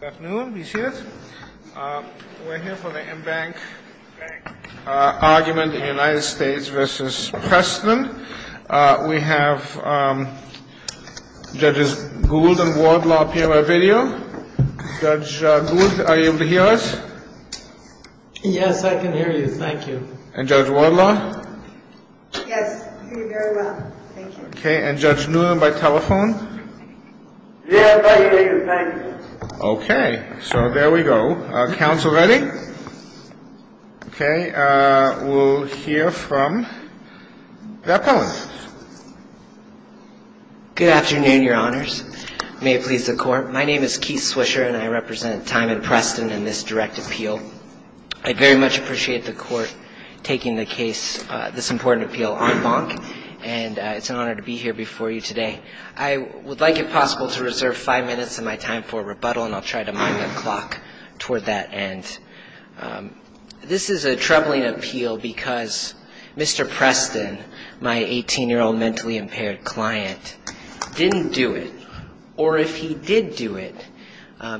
Good afternoon. We're here for the embankment argument in the United States v. Preston. We have Judges Gould and Wardlaw appear by video. Judge Gould, are you able to hear us? Yes, I can hear you. Thank you. And Judge Wardlaw? Yes, I can hear you very well. Thank you. Okay. And Judge Newman by telephone? Yes, I can hear you. Thank you. Okay. So there we go. Our counsel ready? Okay. We'll hear from the appellant. Good afternoon, Your Honors. May it please the Court. My name is Keith Swisher, and I represent Tymond Preston in this direct appeal. I very much appreciate the Court taking the case, this important appeal, en banc, and it's an honor to be here before you today. I would like, if possible, to reserve five minutes of my time for rebuttal, and I'll try to mark my clock toward that end. This is a troubling appeal because Mr. Preston, my 18-year-old mentally impaired client, didn't do it. Or if he did do it,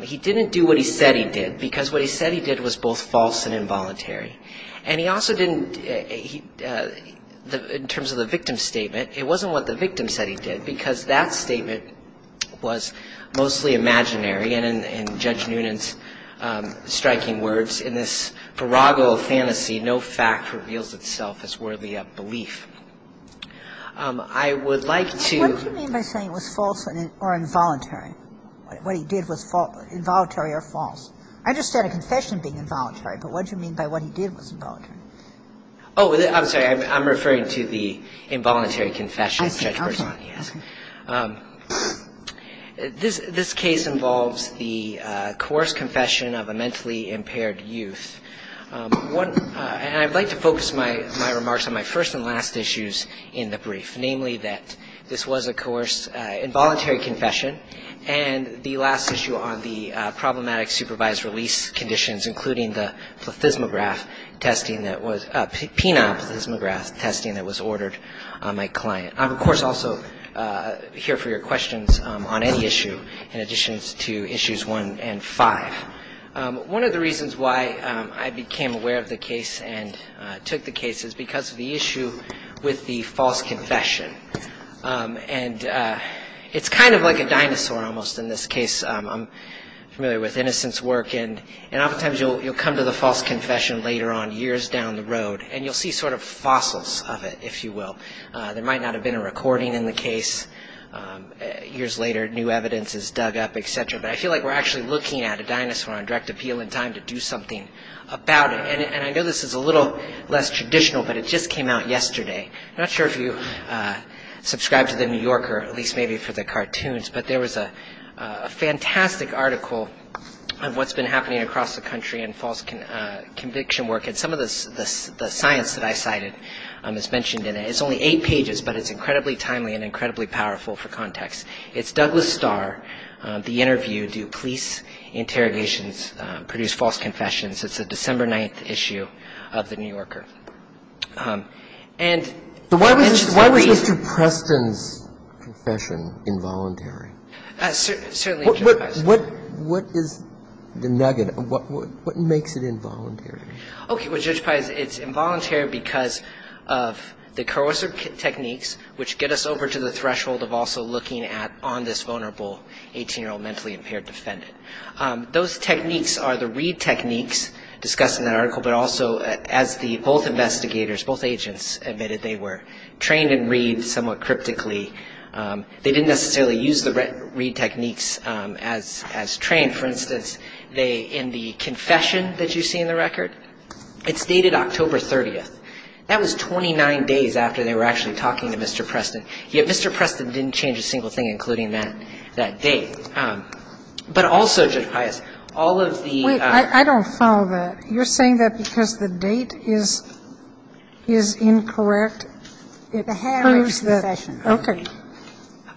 he didn't do what he said he did, because what he said he did was both false and involuntary. And he also didn't, in terms of the victim's statement, it wasn't what the victim said he did, because that statement was mostly imaginary, and in Judge Newman's striking words, in this farrago of fantasy, no fact reveals itself as worthy of belief. I would like to... What do you mean by saying it was false or involuntary? What he did was involuntary or false? I just said a confession being involuntary, but what do you mean by what he did was involuntary? Oh, I'm sorry, I'm referring to the involuntary confession. This case involves the coerced confession of a mentally impaired youth. And I'd like to focus my remarks on my first and last issues in the brief, namely that this was a coerced involuntary confession, and the last issue on the problematic supervised release conditions, including the phenolphysmograph testing that was ordered on my client. I'm, of course, also here for your questions on any issue, in addition to Issues 1 and 5. One of the reasons why I became aware of the case and took the case is because of the issue with the false confession. And it's kind of like a dinosaur, almost, in this case. I'm familiar with Innocent's work, and oftentimes you'll come to the false confession later on, years down the road, and you'll see sort of fossils of it, if you will. There might not have been a recording in the case. Years later, new evidence is dug up, et cetera. But I feel like we're actually looking at a dinosaur on direct appeal in time to do something about it. And I know this is a little less traditional, but it just came out yesterday. I'm not sure if you subscribe to The New Yorker, at least maybe for the cartoons, but there was a fantastic article on what's been happening across the country in false conviction work. And some of the science that I cited is mentioned in it. It's only eight pages, but it's incredibly timely and incredibly powerful for context. It's Douglas Starr, the interview, Do Police Interrogations Produce False Confessions? It's a December 9th issue of The New Yorker. So why was Mr. Preston's confession involuntary? What is the nugget? What makes it involuntary? Okay, well, Judge Pye, it's involuntary because of the coercive techniques, which get us over to the threshold of also looking at on this vulnerable 18-year-old mentally impaired defendant. Those techniques are the read techniques discussed in that article, but also as both investigators, both agents admitted they were trained in read somewhat cryptically. They didn't necessarily use the read techniques as trained. For instance, in the confession that you see in the record, it's dated October 30th. That was 29 days after they were actually talking to Mr. Preston. Yet Mr. Preston didn't change a single thing, including that date. But also, Judge Pye, all of the- Wait, I don't follow that. You're saying that because the date is incorrect? It's a habit of confession. Okay.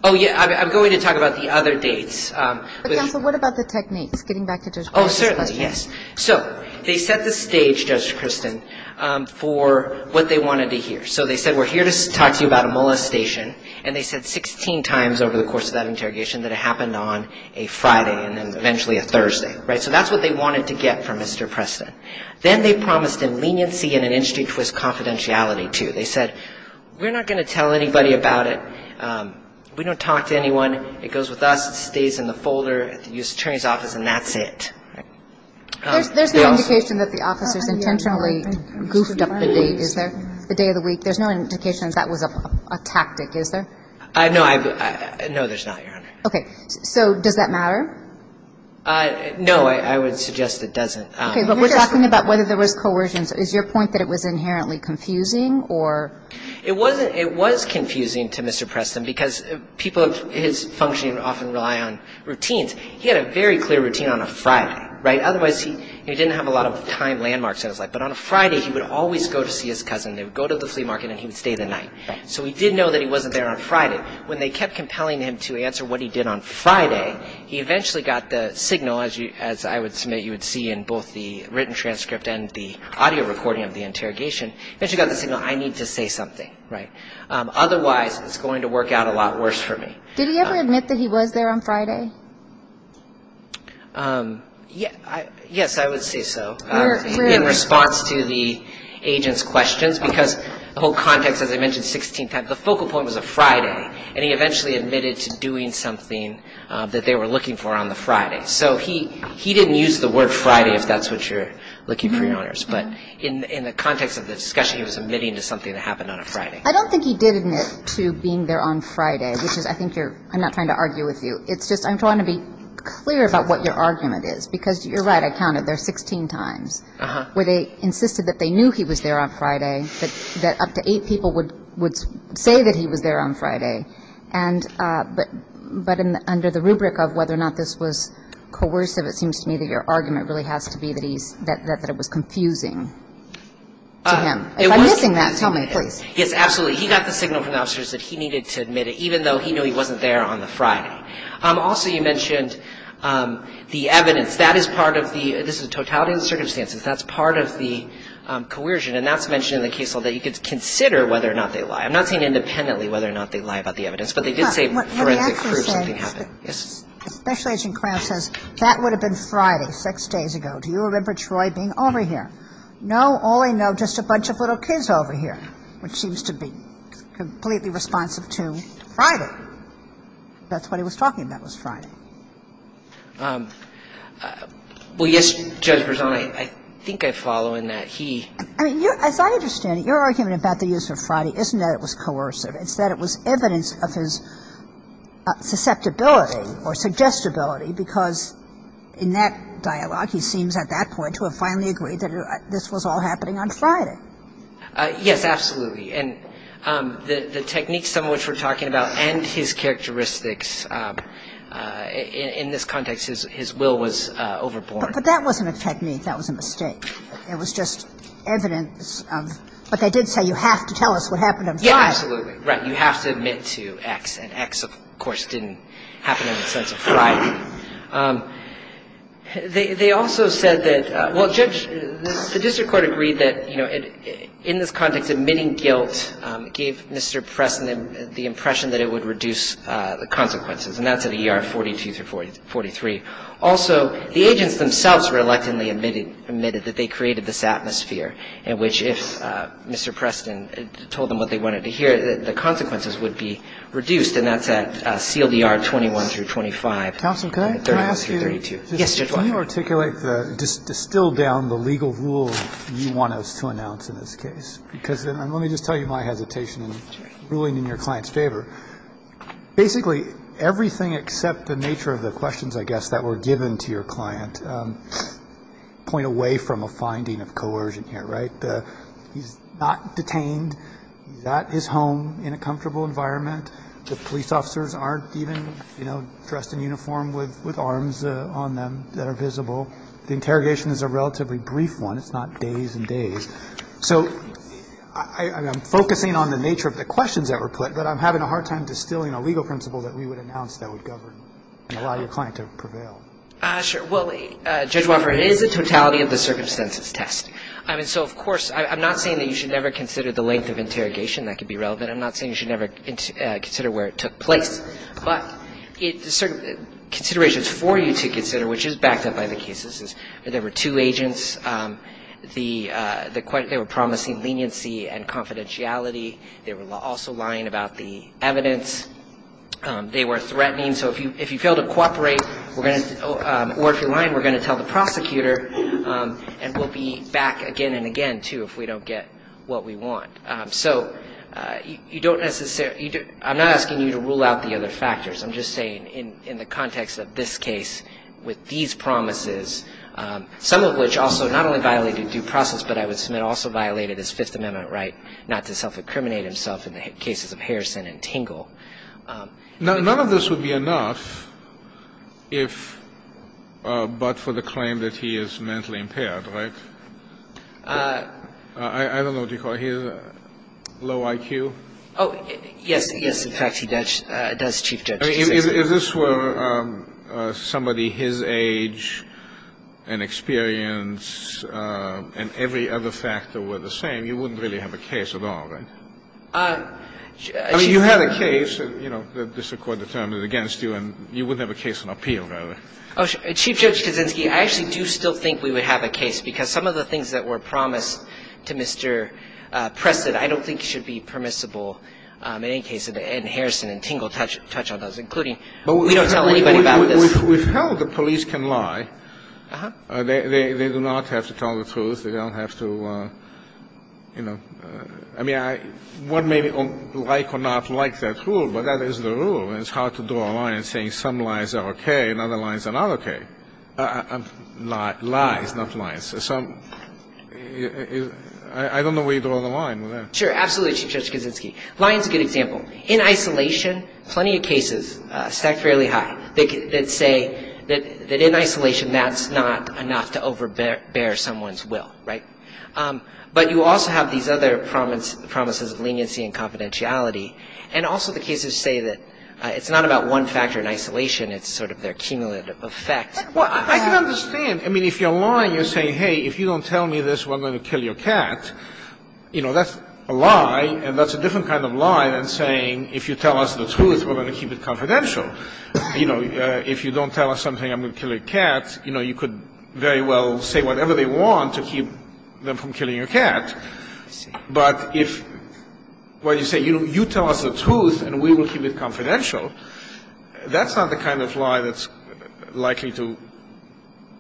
Oh, yeah, I'm going to talk about the other dates. But what about the techniques, getting back to Judge Preston? Oh, certainly, yes. So they set the stage, Judge Kristen, for what they wanted to hear. So they said, we're here to talk to you about a molestation, and they said 16 times over the course of that interrogation that it happened on a Friday and then eventually a Thursday. So that's what they wanted to get from Mr. Preston. Then they promised immediacy and an in-street twist confidentiality, too. They said, we're not going to tell anybody about it. We don't talk to anyone. It goes with us. It stays in the folder. It's in the attorney's office, and that's it. There's no indication that the office has intentionally goofed up the date, is there, the day of the week? There's no indication that that was a tactic, is there? No, there's not, Your Honor. Okay. So does that matter? No, I would suggest it doesn't. Okay, but we're talking about whether there was coercion. Is your point that it was inherently confusing or- It was confusing to Mr. Preston because people of his function often rely on routines. He had a very clear routine on a Friday, right? Otherwise, he didn't have a lot of time landmarks, it sounds like. But on a Friday, he would always go to see his cousin. They would go to the flea market, and he would stay the night. So he did know that he wasn't there on Friday. When they kept compelling him to answer what he did on Friday, he eventually got the signal, as I would submit you would see in both the written transcript and the audio recording of the interrogation. He eventually got the signal, I need to say something, right? Otherwise, it's going to work out a lot worse for me. Did he ever admit that he was there on Friday? Yes, I would say so. In response to the agent's questions, because the whole context, as I mentioned 16 times, the focal point was a Friday, and he eventually admitted to doing something that they were looking for on the Friday. So he didn't use the word Friday, if that's what you're looking for, Your Honors. But in the context of the discussion, he was admitting to something that happened on a Friday. I don't think he did admit to being there on Friday, which is, I think you're, I'm not trying to argue with you. It's just I want to be clear about what your argument is, because you're right, I counted there 16 times, where they insisted that they knew he was there on Friday, that up to eight people would say that he was there on Friday. But under the rubric of whether or not this was coercive, it seems to me that your argument really has to be that he, that it was confusing. If I'm missing that, tell me, please. Yes, absolutely. He got the signal from the officers that he needed to admit it, even though he knew he wasn't there on the Friday. Also, you mentioned the evidence. That is part of the, this is totality of the circumstances, that's part of the coercion, and that's mentioned in the case law that you could consider whether or not they lie. I'm not saying independently whether or not they lie about the evidence, but they did say forensic proof something happened. That would have been Friday six days ago. Do you remember Troy being over here? No, all I know just a bunch of little kids over here, which seems to be completely responsive to Friday. That's what he was talking about was Friday. Well, yes, Judge Barzon, I think I follow in that. I mean, as I understand it, your argument about the use of Friday isn't that it was coercive, it's that it was evidence of his susceptibility or suggestibility because in that dialogue he seems at that point to have finally agreed that this was all happening on Friday. Yes, absolutely. And the techniques of which we're talking about and his characteristics in this context, his will was overboard. But that wasn't a technique. That was a mistake. It was just evidence. But they did say you have to tell us what happened on Friday. Yes, absolutely. Right, you have to admit to X, and X, of course, didn't happen on the 7th of Friday. They also said that, well, Judge, the district court agreed that, you know, in this context admitting guilt gave Mr. Preston the impression that it would reduce the consequences, and that's at ER 42 through 43. Also, the agents themselves reluctantly admitted that they created this atmosphere in which if Mr. Preston told them what they wanted to hear, the consequences would be reduced, and that's at CLDR 21 through 25. Counsel, can I ask you to articulate, distill down the legal rule you want us to announce in this case? Because let me just tell you my hesitation in ruling in your client's favor. Basically, everything except the nature of the questions, I guess, that were given to your client, point away from a finding of coercion here, right? He's not detained. He's at his home in a comfortable environment. The police officers aren't even, you know, dressed in uniform with arms on them that are visible. The interrogation is a relatively brief one. It's not days and days. So I'm focusing on the nature of the questions that were put, but I'm having a hard time distilling a legal principle that we would announce that would govern and allow your client to prevail. Sure. Well, Judge Walker, it is the totality of the circumstances test. I mean, so, of course, I'm not saying that you should never consider the length of interrogation. That could be relevant. I'm not saying you should never consider where it took place, but the considerations for you to consider, which is backed up by the cases, is that there were two agents. They were promising leniency and confidentiality. They were also lying about the evidence. They were threatening. So if you fail to cooperate or if you're lying, we're going to tell the prosecutor, and we'll be back again and again, too, if we don't get what we want. So I'm not asking you to rule out the other factors. I'm just saying in the context of this case with these promises, some of which also not only violated due process, but I would submit also violated his Fifth Amendment right not to self-incriminate himself in the cases of Harrison and Tingle. None of this would be enough but for the claim that he is mentally impaired, right? I don't know what you call it. Low IQ? Yes, in fact, he does achieve that. If this were somebody his age and experience and every other factor were the same, you wouldn't really have a case at all, right? I mean, you have a case, you know, the district court determined it against you and you wouldn't have a case in appeal about it. Chief Judge Kaczynski, I actually do still think we would have a case because some of the things that were promised to Mr. Preston, I don't think should be permissible in any case in Harrison and Tingle, touch on those, including we don't tell anybody about this. We've held that police can lie. They do not have to tell the truth. They don't have to, you know. I mean, one may like or not like that rule but that is the rule and it's hard to draw a line saying some lies are okay and other lies are not okay. Lies, not lies. I don't know where you draw the line with that. Sure, absolutely, Chief Judge Kaczynski. Lying is a good example. In isolation, plenty of cases stacked fairly high that say that in isolation that's not enough to overbear someone's will, right? But you also have these other promises of leniency and confidentiality and also the cases say that it's not about one factor in isolation, it's sort of their cumulative effect. Well, I can understand. I mean, if you're lying and saying, hey, if you don't tell me this, we're going to kill your cat, you know, that's a lie and that's a different kind of lie than saying if you tell us the truth, we're going to keep it confidential. You know, if you don't tell us something, I'm going to kill your cat, you know, you could very well say whatever they want to keep them from killing your cat. But if you say you tell us the truth and we will keep it confidential, that's not the kind of lie that's likely to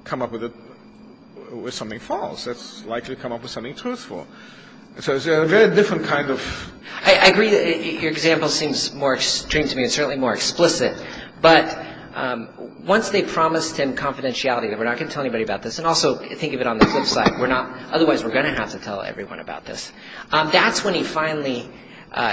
come up with something false. That's likely to come up with something truthful. So it's a very different kind of... I agree. Your example seems more extreme to me and certainly more explicit. But once they promised him confidentiality, that we're not going to tell anybody about this, and also think of it on the flip side, otherwise we're going to have to tell everyone about this. That's when he finally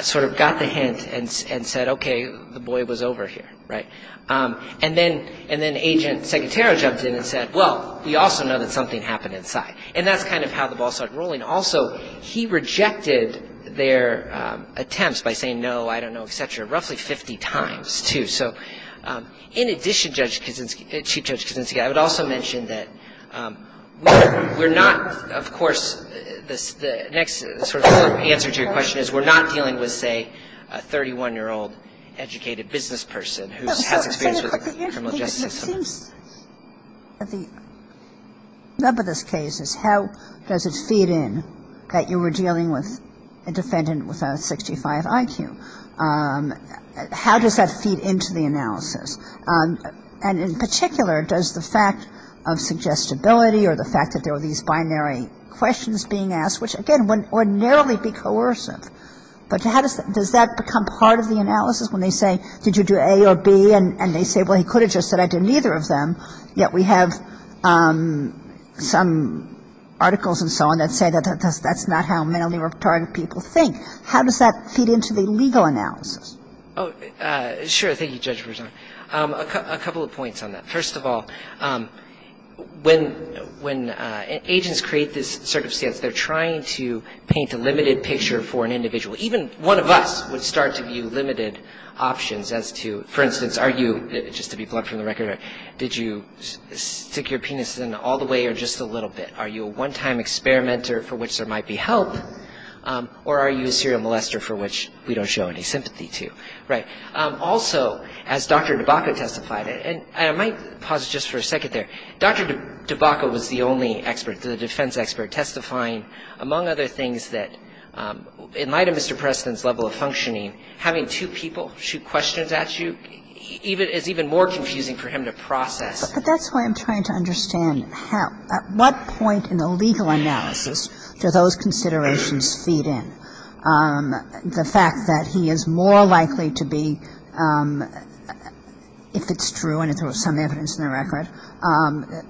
sort of got the hint and said, okay, the boy was over here, right? And then Agent Secretary jumped in and said, well, we also know that something happened inside. And that's kind of how the ball started rolling. Also, he rejected their attempts by saying no, I don't know, etc., So in addition to Judge Kaczynski, I would also mention that we're not, of course, the next sort of answer to your question is we're not dealing with, say, a 31-year-old educated business person who has experience with the criminal justice system. And the number of those cases, how does it feed in that you were dealing with a defendant with a 65 IQ? How does that feed into the analysis? And in particular, does the fact of suggestibility or the fact that there were these binary questions being asked, which again would ordinarily be coercive, but does that become part of the analysis when they say, did you do A or B? And they say, well, he could have just said, I did neither of them. Yet we have some articles and so on that say that that's not how manly work target people think. How does that feed into the legal analysis? Oh, sure. Thank you, Judge. A couple of points on that. First of all, when agents create this circumstance, they're trying to paint a limited picture for an individual. Even one of us would start to view limited options as to, for instance, are you, just to be blunt from the record, did you stick your penis in all the way or just a little bit? Are you a one-time experimenter for which there might be help? Or are you a serial molester for which we don't show any sympathy to? Also, as Dr. DeBacco testified, and I might pause just for a second there, Dr. DeBacco was the only expert, the defense expert, among other things that, in light of Mr. Preston's level of functioning, having two people shoot questions at you is even more confusing for him to process. But that's why I'm trying to understand how, at what point in the legal analysis do those considerations feed in? The fact that he is more likely to be, if it's true and if there was some evidence in the record,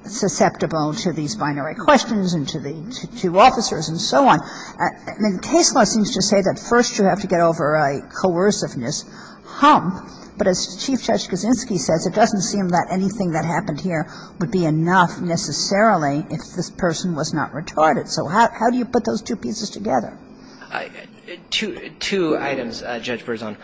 susceptible to these binary questions and to officers and so on. I mean, case law seems to say that first you have to get over a coerciveness hump. But as Chief Judge Kaczynski says, it doesn't seem that anything that happened here would be enough necessarily if this person was not retarded. So how do you put those two pieces together? Two items, Judge Berzon.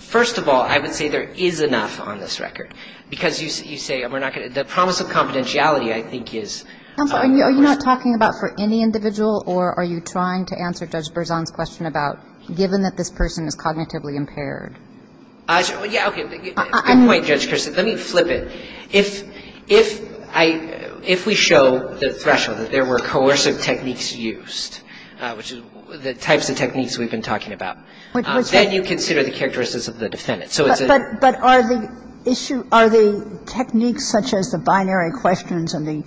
First of all, I would say there is enough on this record. Because you say the promise of confidentiality, I think, is... Are you not talking about for any individual, or are you trying to answer Judge Berzon's question about given that this person is cognitively impaired? Yeah, okay. Good point, Judge Kaczynski. Let me flip it. If we show that there were coercive techniques used, which is the types of techniques we've been talking about, then you consider the characteristics of the defendant. But are the techniques such as the binary questions and the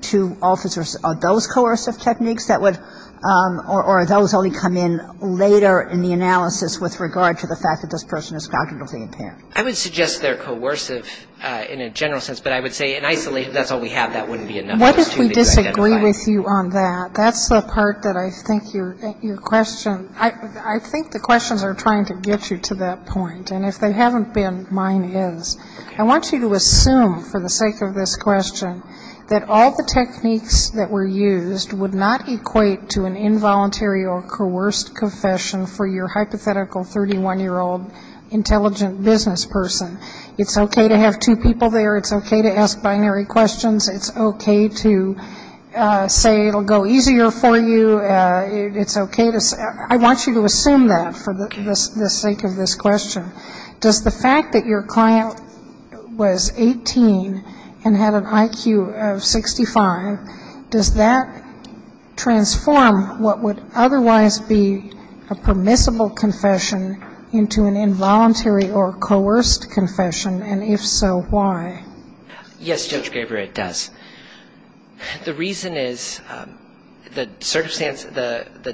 two officers, are those coercive techniques that would, or are those only come in later in the analysis with regard to the fact that this person is cognitively impaired? I would suggest they're coercive in a general sense. But I would say in isolation, that's all we have. That wouldn't be enough to identify... Why did we disagree with you on that? That's the part that I think your question... I think the questions are trying to get you to that point. And if they haven't been, mine is. I want you to assume, for the sake of this question, that all the techniques that were used would not equate to an involuntary or coerced confession for your hypothetical 31-year-old intelligent business person. It's okay to have two people there. It's okay to ask binary questions. It's okay to say it will go easier for you. I want you to assume that for the sake of this question. Does the fact that your client was 18 and had an IQ of 65, does that transform what would otherwise be a permissible confession into an involuntary or coerced confession? And if so, why? Yes, Judge Gaber, it does. The reason is the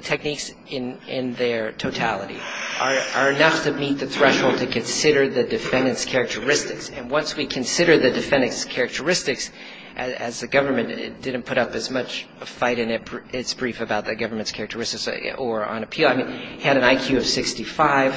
techniques in their totality are enough to meet the threshold to consider the defendant's characteristics. And once we consider the defendant's characteristics, as the government didn't put up as much fight in its brief about the government's characteristics or on appeal. He had an IQ of 65.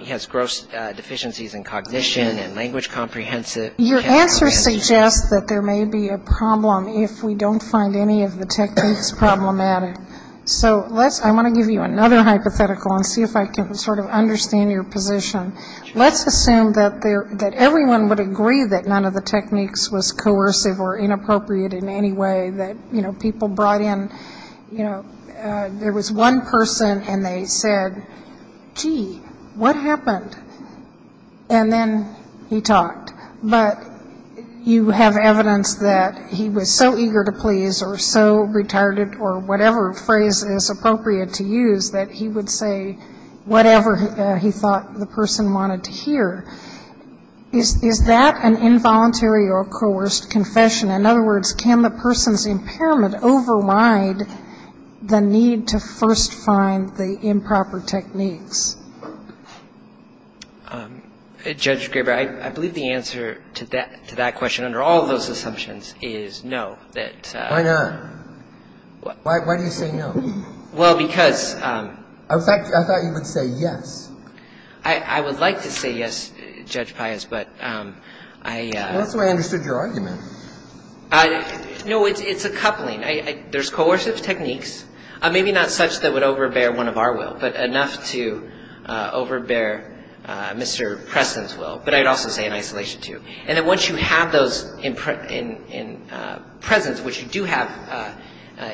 He has gross deficiencies in cognition and language comprehension. Your answer suggests that there may be a problem if we don't find any of the techniques problematic. So I want to give you another hypothetical and see if I can sort of understand your position. Let's assume that everyone would agree that none of the techniques was coercive or inappropriate in any way, that people brought in. There was one person and they said, gee, what happened? And then he talked. But you have evidence that he was so eager to please or so retarded or whatever phrase is appropriate to use that he would say whatever he thought the person wanted to hear. Is that an involuntary or coerced confession? In other words, can the person's impairment override the need to first find the improper techniques? Judge Graber, I believe the answer to that question under all of those assumptions is no. Why not? Why do you say no? Well, because... I thought you would say yes. I would like to say yes, Judge Pius, but I... That's where I understood your argument. No, it's a coupling. There's coercive techniques, maybe not such that would overbear one of our will, but enough to overbear Mr. Preston's will. But I'd also say in isolation, too. And then once you have those in presence, which you do have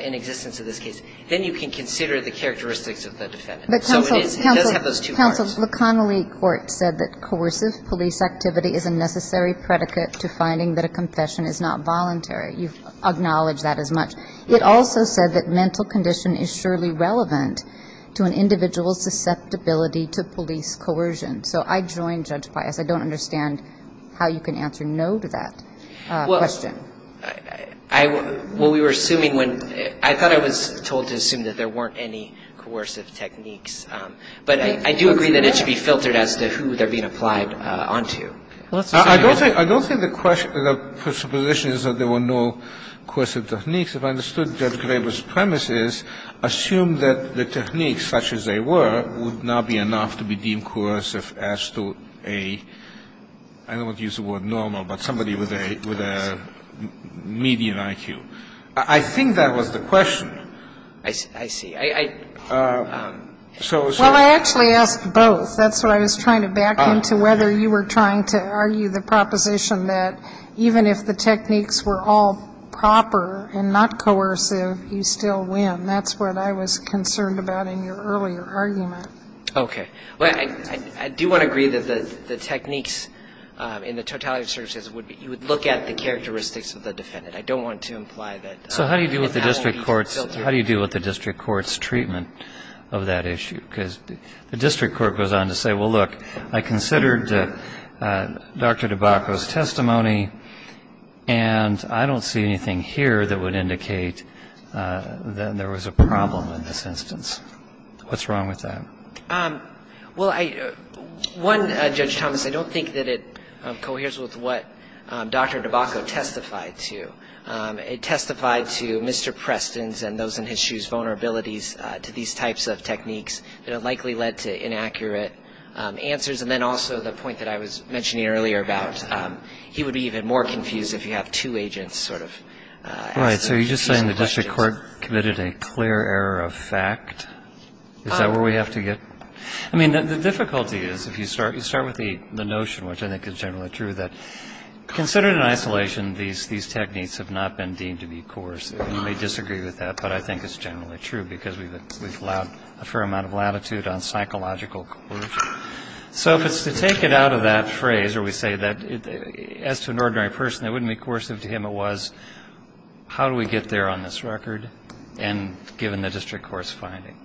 in existence in this case, then you can consider the characteristics of the defendant. Counsel, the Connolly court said that coercive police activity is a necessary predicate to finding that a confession is not voluntary. You've acknowledged that as much. It also said that mental condition is surely relevant to an individual's susceptibility to police coercion. So I join Judge Pius. I don't understand how you can answer no to that question. Well, we were assuming when... I thought I was told to assume that there weren't any coercive techniques. But I do agree that it should be filtered as to who they're being applied onto. I don't think the question... the supposition is that there were no coercive techniques. If I understood Judge Laver's premises, assume that the techniques, such as they were, would not be enough to be deemed coercive as to a... median IQ. I think that was the question. I see. Well, I actually asked both. That's what I was trying to back into, whether you were trying to argue the proposition that even if the techniques were all proper and not coercive, you'd still win. That's what I was concerned about in your earlier argument. Okay. I do want to agree that the techniques in the totality searches would look at the characteristics of the defendant. I don't want to imply that... So how do you deal with the district court's treatment of that issue? Because the district court goes on to say, well, look, I considered Dr. DeBacco's testimony, and I don't see anything here that would indicate that there was a problem in this instance. What's wrong with that? Well, one, Judge Thomas, I don't think that it coheres with what Dr. DeBacco testified to. It testified to Mr. Preston's and those in his shoes' vulnerabilities to these types of techniques that likely led to inaccurate answers, and then also the point that I was mentioning earlier about he would be even more confused if you have two agents sort of... All right. So you're just saying the district court committed a clear error of fact? Is that where we have to get... I mean, the difficulty is, if you start with the notion, which I think is generally true, that considered in isolation, these techniques have not been deemed to be coerced. You may disagree with that, but I think it's generally true, because we've allowed a fair amount of latitude on psychological coercion. So if it's to take it out of that phrase where we say that, as an ordinary person, it wouldn't be coercive to him it was, how do we get there on this record, and given the district court's finding?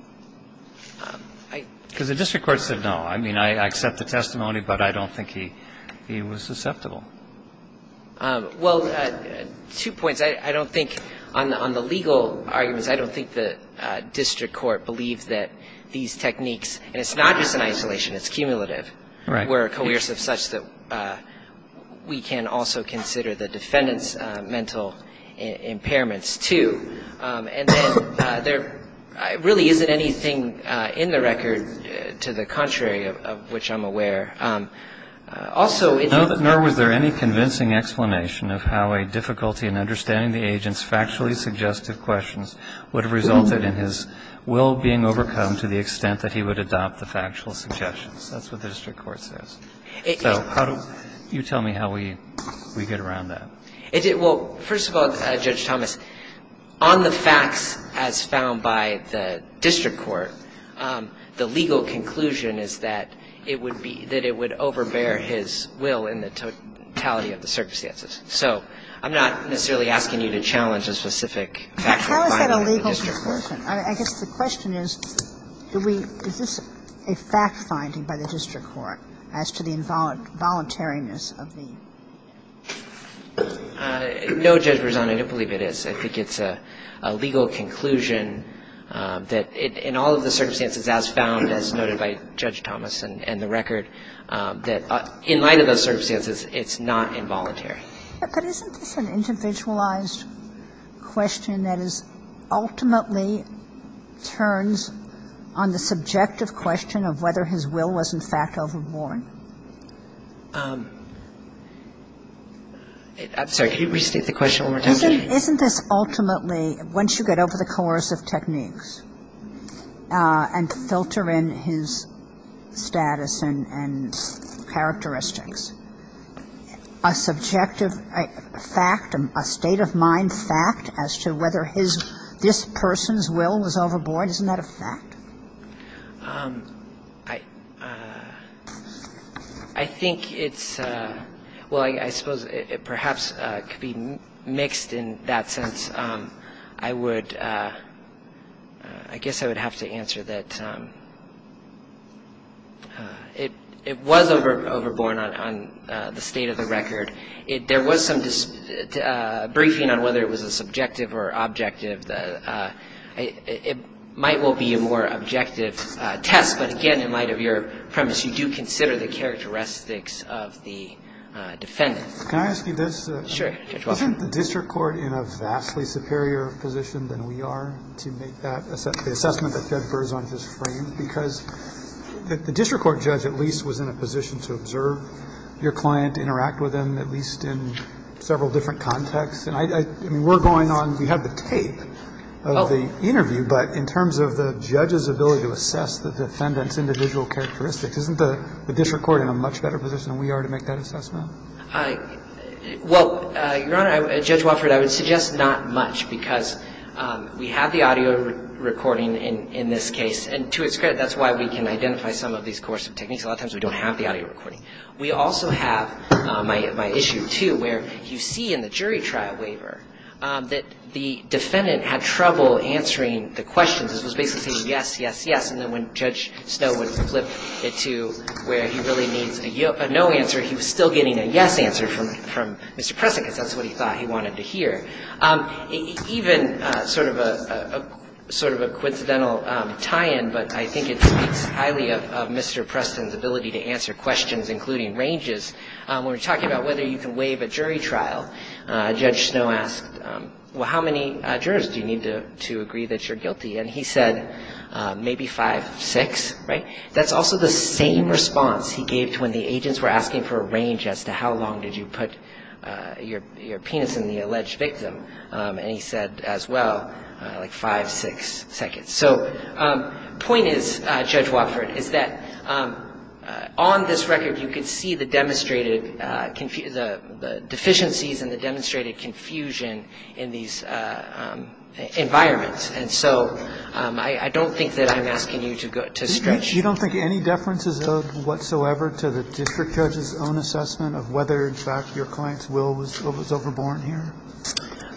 Because the district court said no. I mean, I accept the testimony, but I don't think he was susceptible. Well, two points. I don't think, on the legal arguments, I don't think the district court believed that these techniques, and it's not just in isolation, it's cumulative, were coercive such that we can also consider the defendant's mental impairments, too. And then there really isn't anything in the record to the contrary of which I'm aware. Also... Now that nor was there any convincing explanation of how a difficulty in understanding the agent's factually suggestive questions would have resulted in his will being overcome to the extent that he would adopt the factual suggestions. That's what the district court says. So you tell me how we get around that. Well, first of all, Judge Thomas, on the facts as found by the district court, the legal conclusion is that it would overbear his will in the totality of the circumstances. So I'm not necessarily asking you to challenge a specific fact finding by the district court. How is that a legal conclusion? I guess the question is, is this a fact finding by the district court as to the involuntariness of the... No, Judge Rosano, I don't believe it is. I think it's a legal conclusion that in all of the circumstances as found, as noted by Judge Thomas and the record, that in light of those circumstances, it's not involuntary. But isn't this an individualized question that is ultimately turns on the subjective question of whether his will was in fact overborne? I'm sorry, can you repeat the question one more time? Isn't this ultimately, once you get over the course of techniques and filter in his status and characteristics, a subjective fact, a state of mind fact as to whether this person's will was overboard? I think it's, well, I suppose it perhaps could be mixed in that sense. I would, I guess I would have to answer that it was overborne on the state of the record. There was some briefing on whether it was a subjective or objective. It might well be a more objective test, but again, in light of your premise, you do consider the characteristics of the defendant. Can I ask you this? Sure, Judge Rosano. Isn't the district court in a vastly superior position than we are to make that assessment, the assessment that Federer's on his frame? Because the district court judge at least was in a position to observe your client, interact with him at least in several different contexts. We're going on, we have the tape of the interview, but in terms of the judge's ability to assess the defendant's individual characteristics, isn't the district court in a much better position than we are to make that assessment? Well, Your Honor, Judge Wofford, I would suggest not much because we have the audio recording in this case, and to its credit, that's why we can identify some of these coercive techniques. A lot of times we don't have the audio recording. We also have my issue, too, where you see in the jury trial waiver that the defendant had trouble answering the questions. It was basically yes, yes, yes, and then when Judge Snow would flip it to where he really needs a no answer, he was still getting a yes answer from Mr. Preston because that's what he thought he wanted to hear. Even sort of a coincidental tie-in, but I think it's highly of Mr. Preston's ability to answer questions including ranges, when we're talking about whether you can waive a jury trial, Judge Snow asked, well, how many jurors do you need to agree that you're guilty? And he said maybe five, six, right? That's also the same response he gave to when the agents were asking for a range as to how long did you put your penis in the alleged victim, and he said, as well, five, six seconds. So the point is, Judge Wofford, is that on this record you can see the demonstrated deficiencies and the demonstrated confusion in these environments, and so I don't think that I'm asking you to stretch. Do you don't think any differences of whatsoever to the district judge's own assessment of whether, in fact, your client's will was overborne here?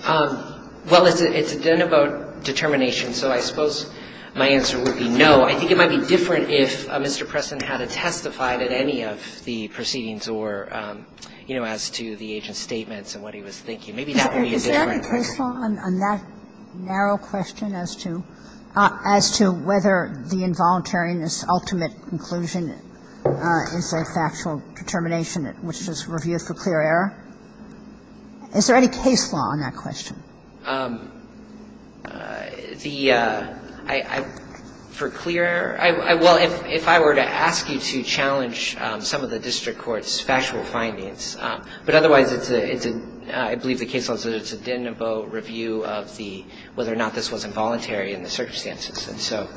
Well, it's then about determination, so I suppose my answer would be no. I think it might be different if Mr. Preston had testified at any of the proceedings or, you know, as to the agent's statements and what he was thinking. Is there a case law on that narrow question as to whether the involuntary in this ultimate conclusion is a factual determination which is reviewed for clear error? Is there any case law on that question? For clear error? Well, if I were to ask you to challenge some of the district court's factual findings, but otherwise, I believe the case law is that it's a den of a review of whether or not this was involuntary in the circumstances.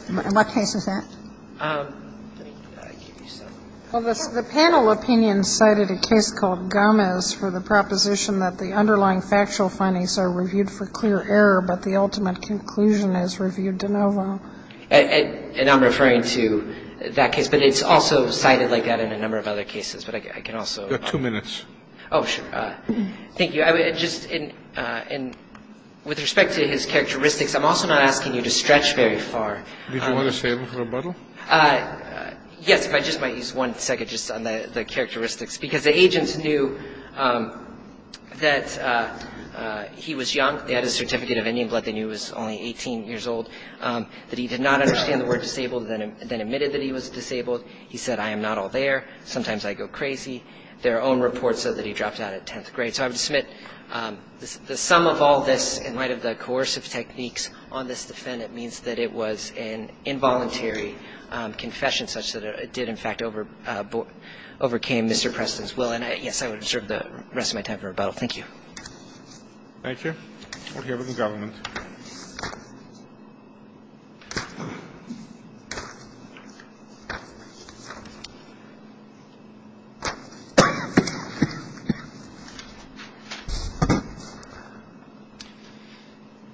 And what case is that? Well, the panel opinion cited a case called Gomez for the proposition that the underlying factual findings are reviewed for clear error, but the ultimate conclusion is reviewed de novo. And I'm referring to that case, but it's also cited like that in a number of other cases, but I can also- You've got two minutes. Oh, sure. Thank you. And with respect to his characteristics, I'm also not asking you to stretch very far. Do you want to say a little rebuttal? Yes, if I just might use one second just on the characteristics. Because the agents knew that he was young. They had a certificate of Indian blood. They knew he was only 18 years old. But he did not understand the word disabled, then admitted that he was disabled. He said, I am not all there. Sometimes I go crazy. Their own report said that he dropped out of 10th grade. So I would submit the sum of all this, in light of the coercive techniques on this defendant, means that it was an involuntary confession such that it did, in fact, overcame Mr. Preston's will. And, yes, I would reserve the rest of my time for rebuttal. Thank you. Thank you. We'll give it to the government.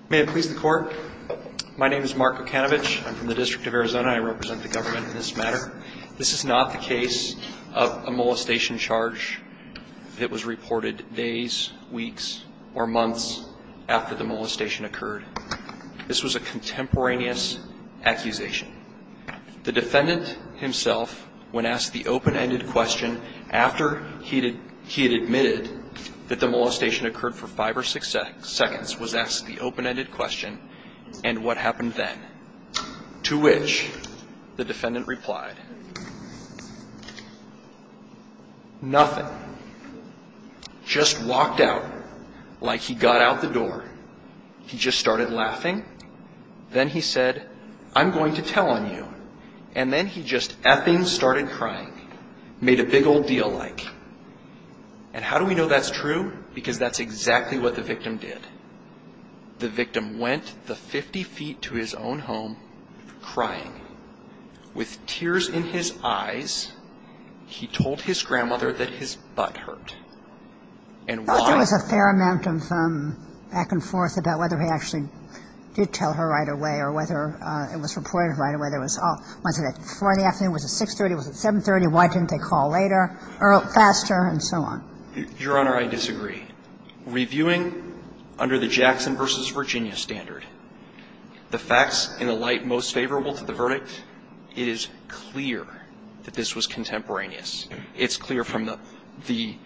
May it please the Court. My name is Mark McKenovich. I'm from the District of Arizona. I represent the government in this matter. This is not the case of a molestation charge that was reported days, weeks, or months after the molestation occurred. This was a contemporaneous accusation. The defendant himself, when asked the open-ended question, after he had admitted that the molestation occurred for five or six seconds, was asked the open-ended question, and what happened then? To which the defendant replied, nothing. Just walked out, like he got out the door. He just started laughing. Then he said, I'm going to tell on you. And then he just f-ing started crying. Made a big old deal like. And how do we know that's true? Because that's exactly what the victim did. The victim went the 50 feet to his own home crying. With tears in his eyes, he told his grandmother that his butt hurt. There was a fair amount of back and forth about whether he actually did tell her right away, or whether it was reported right away. It was Friday afternoon, it was at 630, it was at 730. Why didn't they call later, or faster, and so on? Your Honor, I disagree. Reviewing under the Jackson v. Virginia standard, the facts in a light most favorable to the verdict is clear that this was contemporaneous. It's clear from the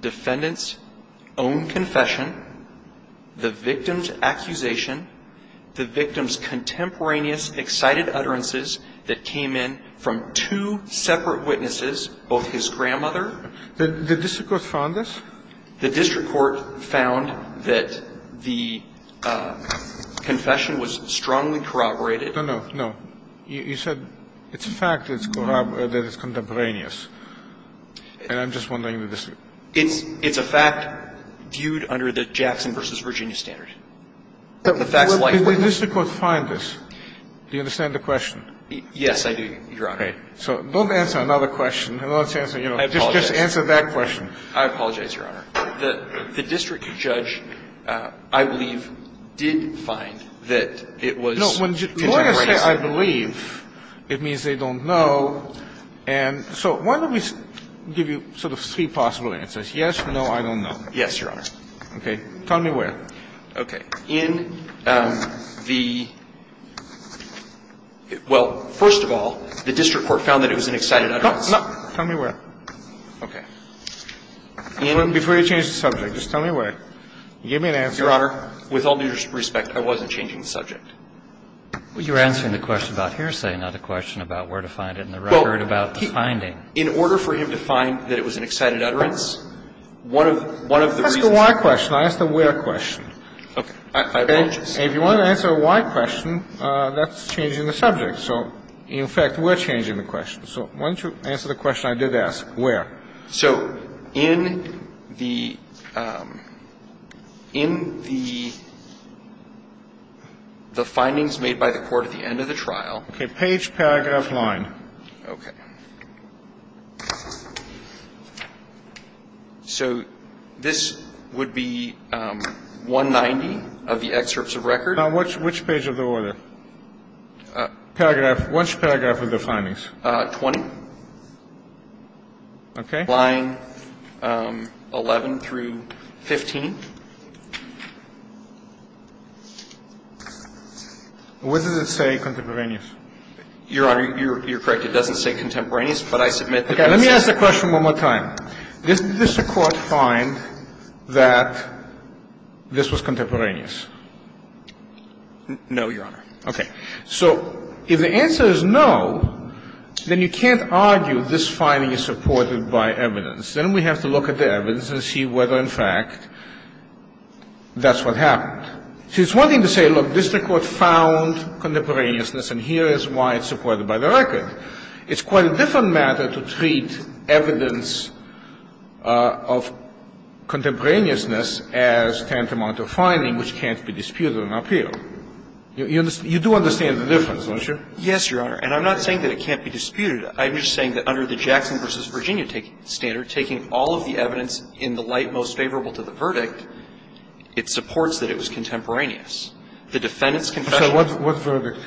defendant's own confession, the victim's accusation, the victim's contemporaneous excited utterances that came in from two separate witnesses, both his grandmother. The district court found this? The district court found that the confession was strongly corroborated. No, no, no. You said it's a fact that it's contemporaneous, and I'm just wondering. It's a fact viewed under the Jackson v. Virginia standard. The district court found this. Do you understand the question? Yes, I do, Your Honor. So don't answer another question. Just answer that question. I apologize, Your Honor. The district judge, I believe, did find that it was contemporaneous. When I say I believe, it means they don't know. So why don't we give you sort of three possible answers, yes, no, I don't know. Yes, Your Honor. Okay. Tell me where. Okay. In the – well, first of all, the district court found that it was an excited utterance. No, no. Tell me where. Okay. Before you change the subject, just tell me where. Give me an answer. Yes, Your Honor. With all due respect, I wasn't changing the subject. You're answering the question about hearsay, not the question about where to find it, and the record about the finding. In order for him to find that it was an excited utterance, one of the – I asked a why question. I asked a where question. If you want to answer a why question, that's changing the subject. So, in fact, we're changing the question. So why don't you answer the question I did ask, where. Okay. So, in the findings made by the court at the end of the trial. Okay. Page, paragraph, line. Okay. So, this would be 190 of the excerpts of records. Now, which page of the order? Paragraph – which paragraph of the findings? 20. Okay. Line 11 through 15. What does it say, contemporaneous? Your Honor, you're correct. It doesn't say contemporaneous, but I submit – Okay. Let me ask the question one more time. Did the district court find that this was contemporaneous? No, Your Honor. Okay. So, if the answer is no, then you can't argue this finding is supported by evidence. Then we have to look at the evidence and see whether, in fact, that's what happened. See, it's one thing to say, look, district court found contemporaneousness, and here is why it's supported by the record. It's quite a different matter to treat evidence of contemporaneousness as tantamount to a finding which can't be disputed on appeal. You do understand the difference, don't you? Yes, Your Honor. And I'm not saying that it can't be disputed. I'm just saying that under the Jackson v. Virginia standard, taking all of the evidence in the light most favorable to the verdict, it supports that it was contemporaneous. The defendant's confession – So what's the verdict?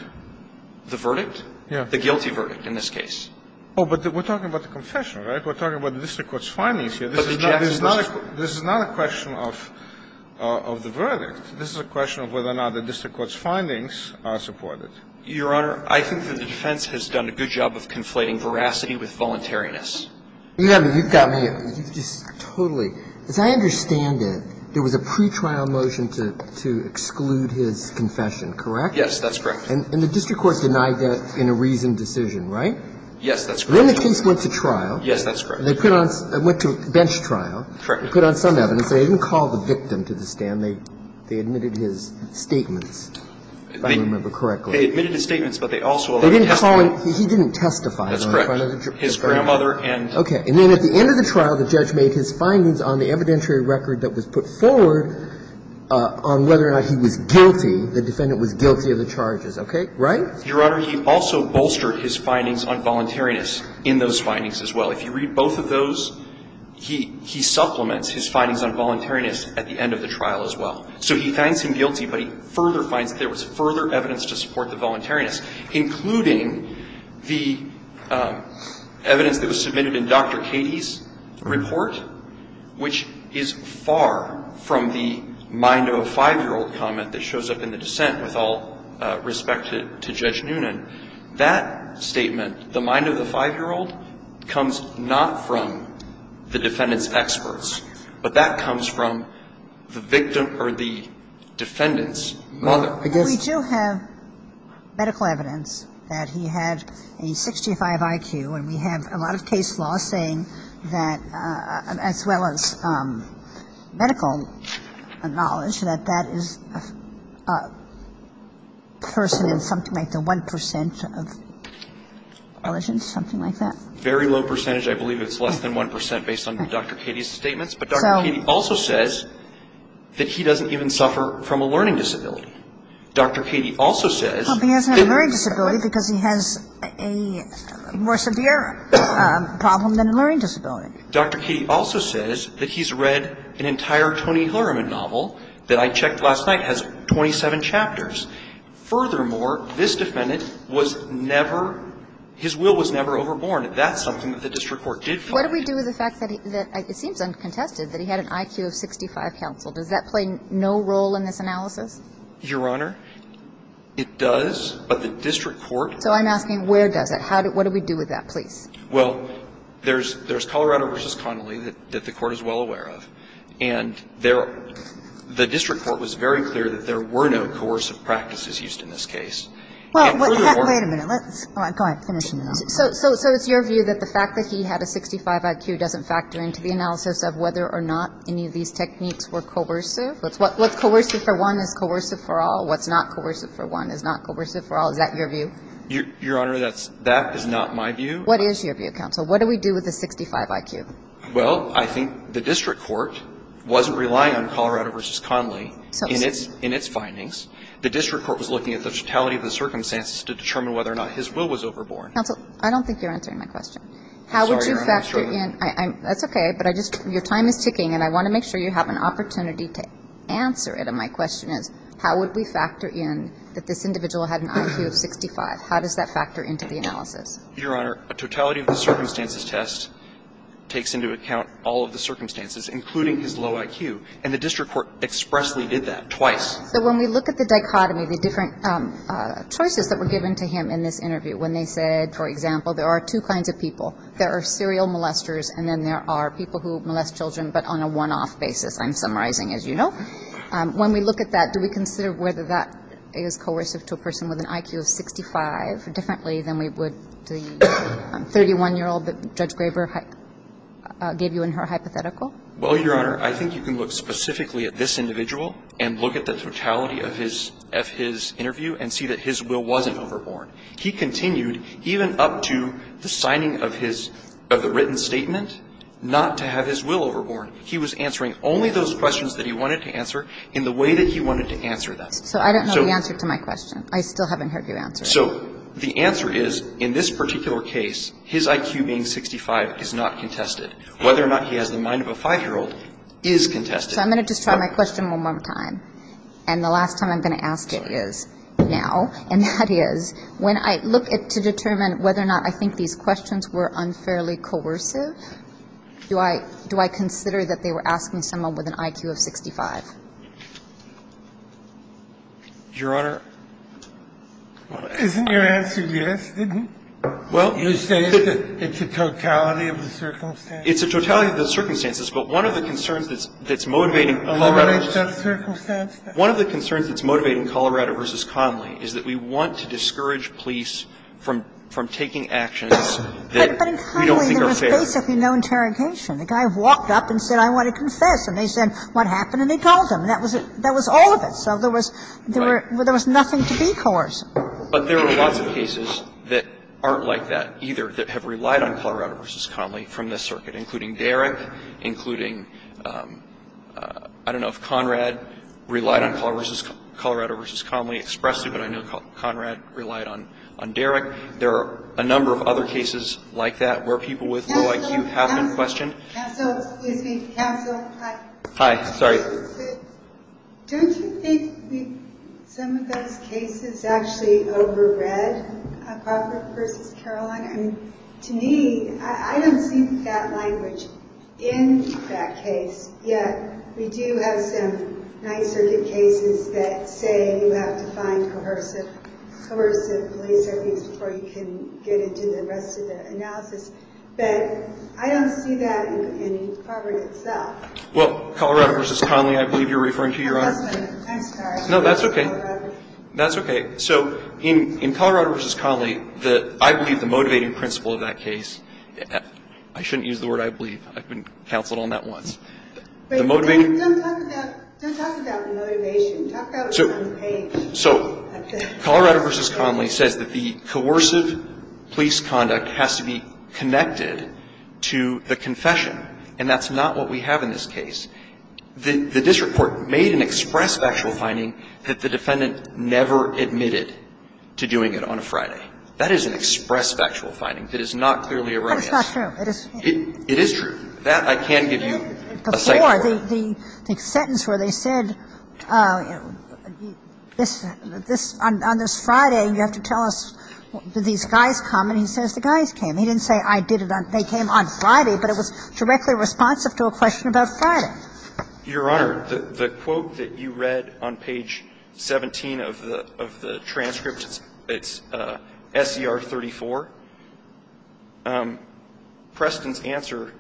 The verdict? Yeah. The guilty verdict in this case. Oh, but we're talking about the confession, right? We're talking about the district court's findings here. But the Jackson – This is not a question of the verdict. This is a question of whether or not the district court's findings are supported. Your Honor, I think that the defense has done a good job of conflating veracity with voluntariness. Yeah, you've got me totally. As I understand it, there was a pretrial motion to exclude his confession, correct? Yes, that's correct. And the district court denied that in a reasoned decision, right? Yes, that's correct. Then the case went to trial. Yes, that's correct. And they put on – it went to bench trial. Correct. They put on some evidence. They didn't call the victim to the stand. They admitted his statements, if I remember correctly. They admitted his statements, but they also – They didn't call – he didn't testify. That's correct. His grandmother and – Okay. And then at the end of the trial, the judge made his findings on the evidentiary record that was put forward on whether or not he was guilty, the defendant was guilty of the charges. Okay? Right? Your Honor, he also bolstered his findings on voluntariness in those findings as well. If you read both of those, he supplements his findings on voluntariness at the end of the trial as well. So he thanked him guilty, but he further finds that there was further evidence to support the voluntariness, including the evidence that was submitted in Dr. Cady's report, which is far from the mind of a five-year-old comment that shows up in the dissent with all respect to Judge Noonan. That statement, the mind of the five-year-old, comes not from the defendant's experts, but that comes from the victim or the defendant's mother. We do have medical evidence that he had a 65 IQ, and we have a lot of case law saying that, as well as medical knowledge, that that is a person in something like the 1% of intelligence, something like that. Very low percentage, I believe it's less than 1% based on Dr. Cady's statements, but Dr. Cady also says that he doesn't even suffer from a learning disability. Dr. Cady also says that he's read an entire Tony Hillerman novel that I checked last night has 27 chapters. Furthermore, this defendant was never, his will was never overborne, and that's something that the district court did find. What do we do with the fact that it seems uncontested that he had an IQ of 65 counsel? Does that play no role in this analysis? Your Honor, it does, but the district court... So I'm asking where does it, what do we do with that, please? Well, there's Colorado v. Connolly that the court is well aware of, and the district court was very clear that there were no coercive practices used in this case. Wait a minute. Go ahead, finish. So it's your view that the fact that he had a 65 IQ doesn't factor into the analysis of whether or not any of these techniques were coercive? What's coercive for one is coercive for all. What's not coercive for one is not coercive for all. Is that your view? Your Honor, that is not my view. What is your view, counsel? What do we do with the 65 IQ? Well, I think the district court wasn't relying on Colorado v. Connolly in its findings. The district court was looking at the totality of the circumstances to determine whether or not his will was overborne. Counsel, I don't think you're answering my question. Sorry, Your Honor. That's okay, but I just, your time is ticking, and I want to make sure you have an opportunity to answer it. And my question is, how would we factor in that this individual had an IQ of 65? How does that factor into the analysis? Your Honor, a totality of the circumstances test takes into account all of the circumstances, including his low IQ. And the district court expressly did that twice. So when we look at the dichotomy of the different choices that were given to him in this interview, when they said, for example, there are two kinds of people. There are serial molesters, and then there are people who molest children, but on a one-off basis, I'm summarizing, as you know. When we look at that, do we consider whether that is coercive to a person with an IQ of 65 differently than we would the 31-year-old that Judge Graver gave you in her hypothetical? Well, Your Honor, I think you can look specifically at this individual and look at the totality of his interview and see that his will wasn't overborne. He continued, even up to the signing of the written statement, not to have his will overborne. He was answering only those questions that he wanted to answer in the way that he wanted to answer them. So I don't know the answer to my question. I still haven't heard your answer. So the answer is, in this particular case, his IQ being 65 is not contested. Whether or not he has the mind of a 5-year-old is contested. So I'm going to just try my question one more time. And the last time I'm going to ask it is now. And that is, when I look to determine whether or not I think these questions were unfairly coercive, do I consider that they were asking someone with an IQ of 65? Your Honor? Isn't your answer yes? Well, you stated that it's a totality of the circumstances. It's a totality of the circumstances. But one of the concerns that's motivating Colorado v. Conley is that we want to discourage police from taking actions that we don't think are fair. There was basically no interrogation. The guy walked up and said, I want to confess. And they said, what happened? And they told him. That was all of it. So there was nothing to be coerced. But there are a lot of cases that aren't like that either that have relied on Colorado v. Conley from this circuit, including Derrick, including, I don't know if Conrad relied on Colorado v. Conley expressly, but I know Conrad relied on Derrick. There are a number of other cases like that where people with no IQ have been questioned. Counselor? Counselor? Hi. Hi. Sorry. Don't you think some of those cases actually over-read Professor v. Caroline? I mean, to me, I don't think that language in that case. Yes. We do have some nondiscriminate cases that say you have to sign coercive liaison papers before you can get into the rest of the analysis. But I don't see that in Conrad itself. Well, Colorado v. Conley, I believe you're referring to, Your Honor. I'm sorry. No, that's okay. That's okay. So in Colorado v. Conley, I believe the motivating principle of that case, I shouldn't use the word I believe. I've been counseled on that one. Don't talk about motivation. Talk about the case. So Colorado v. Conley said that the coercive police conduct has to be connected to the confession, and that's not what we have in this case. This report made an express factual finding that the defendant never admitted to doing it on a Friday. That is an express factual finding. It is not clearly erroneous. That's not true. It is true. That, I can give you a second. Before, the sentence where they said, on this Friday, you have to tell us did these guys come, and he says the guys came. He didn't say I did it. They came on Friday, but it was directly responsive to a question about Friday. Your Honor, the quote that you read on page 17 of the transcript, it's S.E.R. 34. Preston's answer,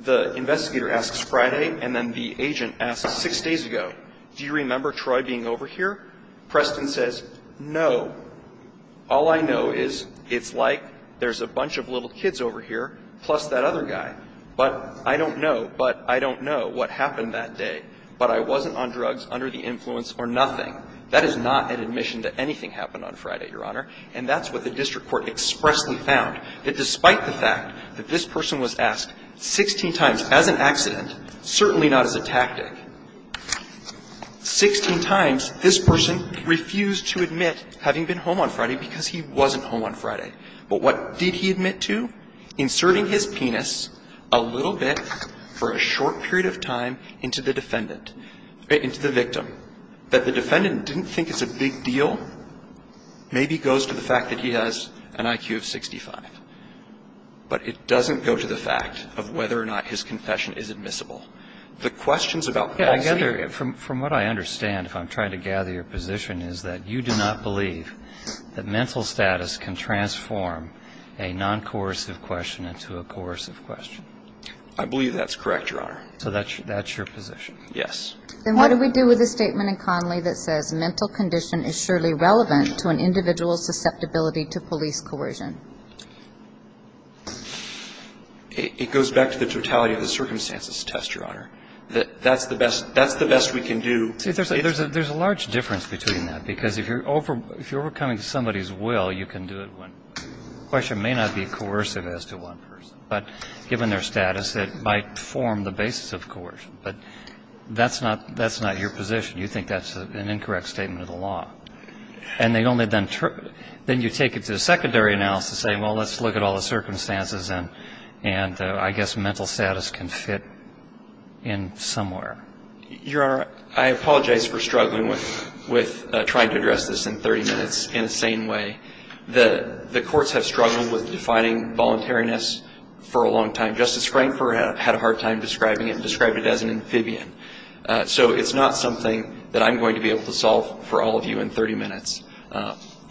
the investigator asks Friday, and then the agent asks six days ago, do you remember Troy being over here? Preston says, no. All I know is it's like there's a bunch of little kids over here, plus that other guy. But I don't know, but I don't know what happened that day. But I wasn't on drugs, under the influence, or nothing. That is not an admission that anything happened on Friday, Your Honor. And that's what the district court expressly found. That despite the fact that this person was asked 16 times as an accident, certainly not as a tactic, 16 times this person refused to admit having been home on Friday because he wasn't home on Friday. But what did he admit to? Inserting his penis a little bit for a short period of time into the victim. That the defendant didn't think it's a big deal maybe goes to the fact that he has an IQ of 65. But it doesn't go to the fact of whether or not his confession is admissible. The questions about Friday. From what I understand, if I'm trying to gather your position, is that you do not believe that mental status can transform a non-coercive question into a coercive question. I believe that's correct, Your Honor. So that's your position? Yes. Then what do we do with the statement in Conley that says, mental condition is surely relevant to an individual's susceptibility to police coercion? It goes back to the totality of the circumstances test, Your Honor. That's the best we can do. There's a large difference between that. Because if you're overcoming somebody's will, you can do it. The question may not be coercive as to one person. But given their status, it might form the basis of coercion. But that's not your position. You think that's an incorrect statement of the law. And then you take it to the secondary analysis and say, well, let's look at all the circumstances and I guess mental status can fit in somewhere. I apologize for struggling with trying to address this in 30 minutes in a sane way. The courts have struggled with defining voluntariness for a long time. Justice Crankford had a hard time describing it and described it as an amphibian. So it's not something that I'm going to be able to solve for all of you in 30 minutes.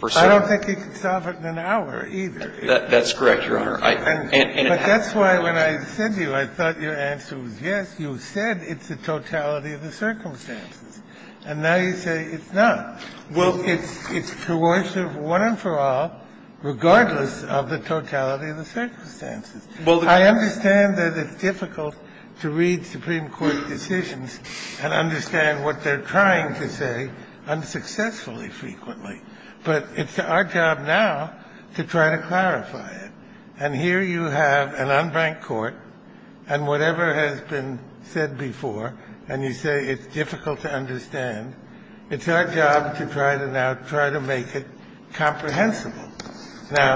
I don't think you can solve it in an hour either. That's correct, Your Honor. But that's why when I said to you I thought your answer was yes, you said it's the totality of the circumstances. And now you say it's not. It's coercive one and for all, regardless of the totality of the circumstances. I understand that it's difficult to read Supreme Court decisions and understand what they're trying to say unsuccessfully frequently. But it's our job now to try to clarify it. And here you have an unbanked court and whatever has been said before, and you say it's difficult to understand, it's our job to try to make it comprehensible. Now,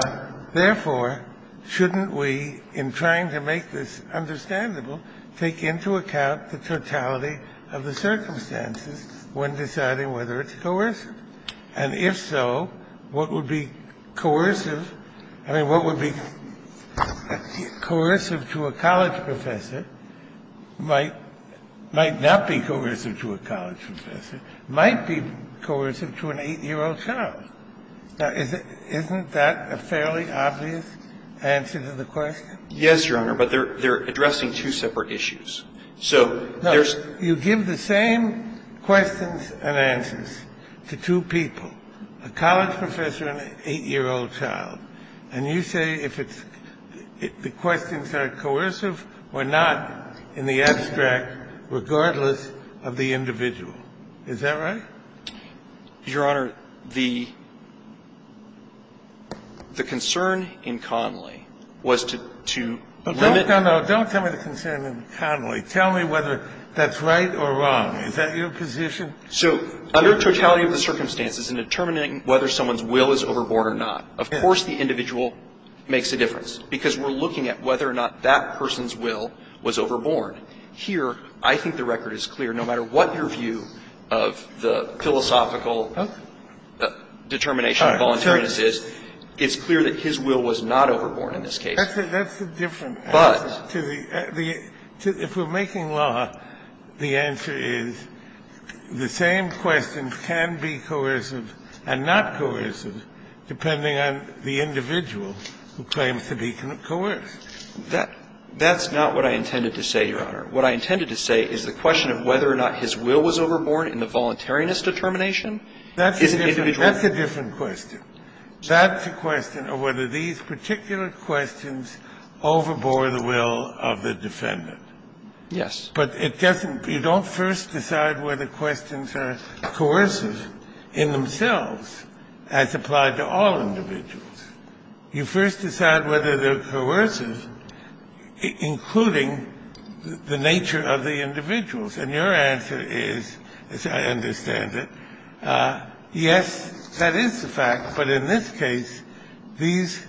therefore, shouldn't we, in trying to make this understandable, take into account the totality of the circumstances when deciding whether it's coercive? And if so, what would be coercive to a college professor might not be coercive to a college professor, might be coercive to an 8-year-old child. Isn't that a fairly obvious answer to the question? Yes, Your Honor, but they're addressing two separate issues. You give the same questions and answers to two people, a college professor and an 8-year-old child, and you say the questions are coercive or not in the abstract, regardless of the individual. Is that right? Your Honor, the concern in Connolly was to limit... Don't comment on the concern in Connolly. Tell me whether that's right or wrong. Is that your position? So, under totality of the circumstances, in determining whether someone's will is overborn or not, of course the individual makes a difference because we're looking at whether or not that person's will was overborn. Here, I think the record is clear. No matter what your view of the philosophical determination of voluntariness is, it's clear that his will was not overborn in this case. That's the difference. But... If we're making law, the answer is the same questions can be coercive and not coercive, depending on the individual who claims to be coerced. That's not what I intended to say, Your Honor. What I intended to say is the question of whether or not his will was overborn in the voluntariness determination. That's a different question. That's a question of whether these particular questions overbore the will of the defendant. Yes. But it doesn't... You don't first decide whether questions are coercive in themselves as applied to all individuals. You first decide whether they're coercive, including the nature of the individuals. And your answer is, as I understand it, yes, that is the fact. But in this case, these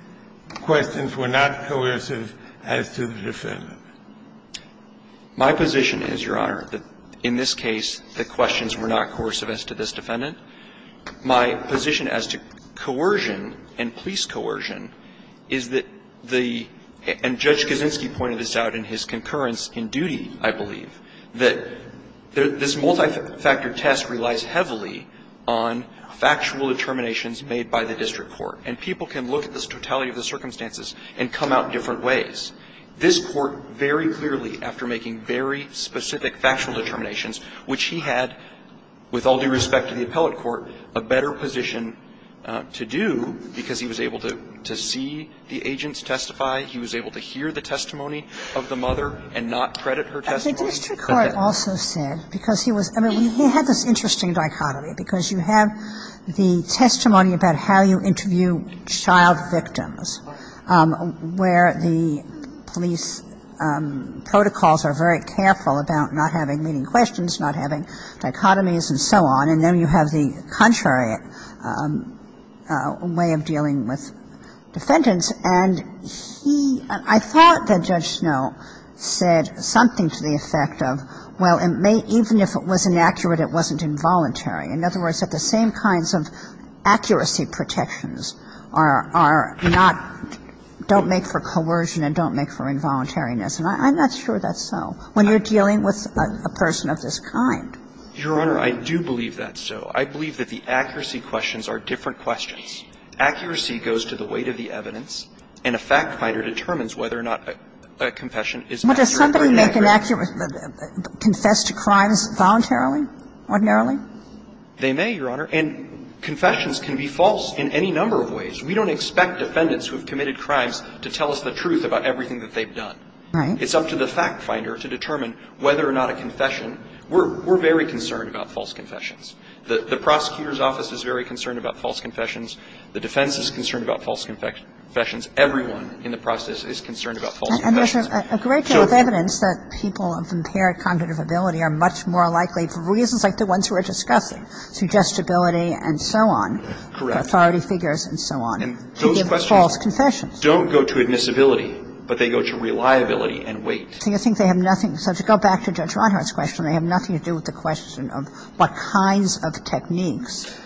questions were not coercive as to the defendant. My position is, Your Honor, that in this case, the questions were not coercive as to this defendant. My position as to coercion and police coercion is that the... And Judge Kaczynski pointed this out in his concurrence in duty, I believe, that this multi-factor test relies heavily on factual determinations made by the district court. And people can look at this totality of the circumstances and come out different ways. This court, very clearly, after making very specific factual determinations, which he had, with all due respect to the appellate court, a better position to do because he was able to see the agents testify, he was able to hear the testimony of the mother and not credit her testimony to... The district court also said, because he was... I mean, he had this interesting dichotomy because you have the testimony about how you interview child victims, where the police protocols are very careful about not having leading questions, not having dichotomies, and so on. And then you have the contrary way of dealing with defendants. And he... I thought that Judge Snow said something to the effect of, well, even if it was inaccurate, it wasn't involuntary. In other words, that the same kinds of accuracy protections are not... don't make for coercion and don't make for involuntariness. And I'm not sure that's so when you're dealing with a person of this kind. Your Honor, I do believe that's so. I believe that the accuracy questions are different questions. Accuracy goes to the weight of the evidence, and a fact finder determines whether or not a confession is... But does somebody make an accurate... confess to crimes voluntarily, ordinarily? They may, Your Honor. And confessions can be false in any number of ways. We don't expect defendants who have committed crimes to tell us the truth about everything that they've done. It's up to the fact finder to determine whether or not a confession... We're very concerned about false confessions. The prosecutor's office is very concerned about false confessions. The defense is concerned about false confessions. Everyone in the process is concerned about false confessions. And there's a great deal of evidence that people of impaired cognitive ability are much more likely, for reasons like the ones we're discussing, to just ability and so on, authority figures and so on, to give false confessions. Those questions don't go to admissibility, but they go to reliability and weight. So you think they have nothing... So to go back to Judge Ronhart's question, they have nothing to do with the question of what kinds of techniques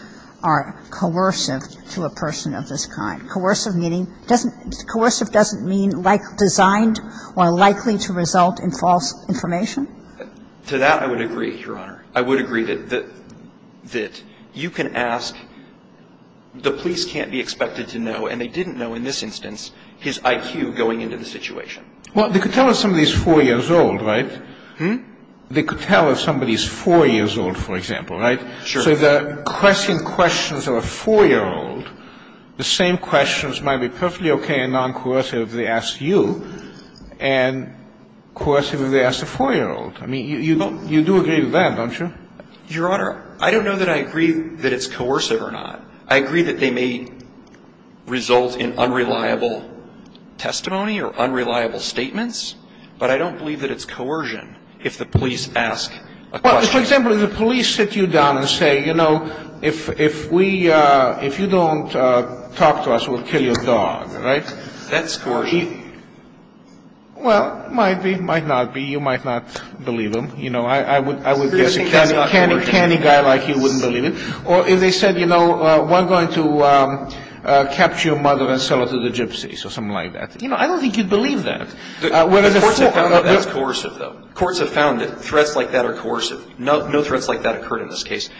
are coercive to a person of this kind. Coercive doesn't mean designed or likely to result in false information? To that I would agree, Your Honor. I would agree that you can ask... The police can't be expected to know, and they didn't know in this instance, his IQ going into the situation. Well, they could tell us somebody's four years old, right? They could tell if somebody's four years old, for example, right? Sure. So the pressing questions of a four-year-old, the same questions might be perfectly okay and non-coercive if they asked you, and coercive if they asked a four-year-old. I mean, you do agree with that, don't you? Your Honor, I don't know that I agree that it's coercive or not. I agree that they may result in unreliable testimony or unreliable statements, but I don't believe that it's coercion if the police ask a question. Well, for example, if the police sit you down and say, you know, if you don't talk to us, we'll kill your dog, right? That's coercion. Well, it might not be. You might not believe them. I would guess a canny guy like you wouldn't believe it. Or if they said, you know, we're going to capture your mother and sell her to the gypsies or something like that. You know, I don't think you'd believe that. Courts have found that threats like that are coercive. No threats like that occurred in this case.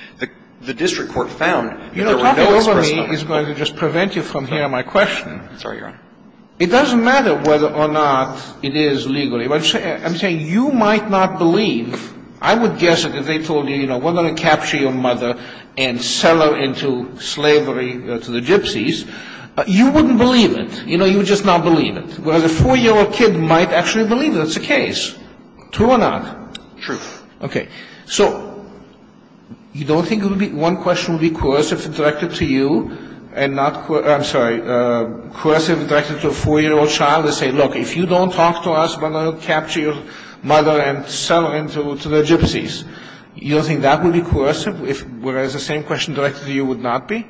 The district court found that. You know, talking over me is going to just prevent you from hearing my question. I'm sorry, Your Honor. It doesn't matter whether or not it is legally. I'm saying you might not believe. I would guess that if they told you, you know, we're going to capture your mother and sell her into slavery to the gypsies, you wouldn't believe it. You know, you would just not believe it. Whereas a four-year-old kid might actually believe it. It's the case. True or not? True. Okay. So, you don't think one question would be coercive directed to you and not, I'm sorry, coercive directed to a four-year-old child and say, look, if you don't talk to us, we're going to capture your mother and sell her to the gypsies. You don't think that would be coercive? Whereas the same question directed to you would not be?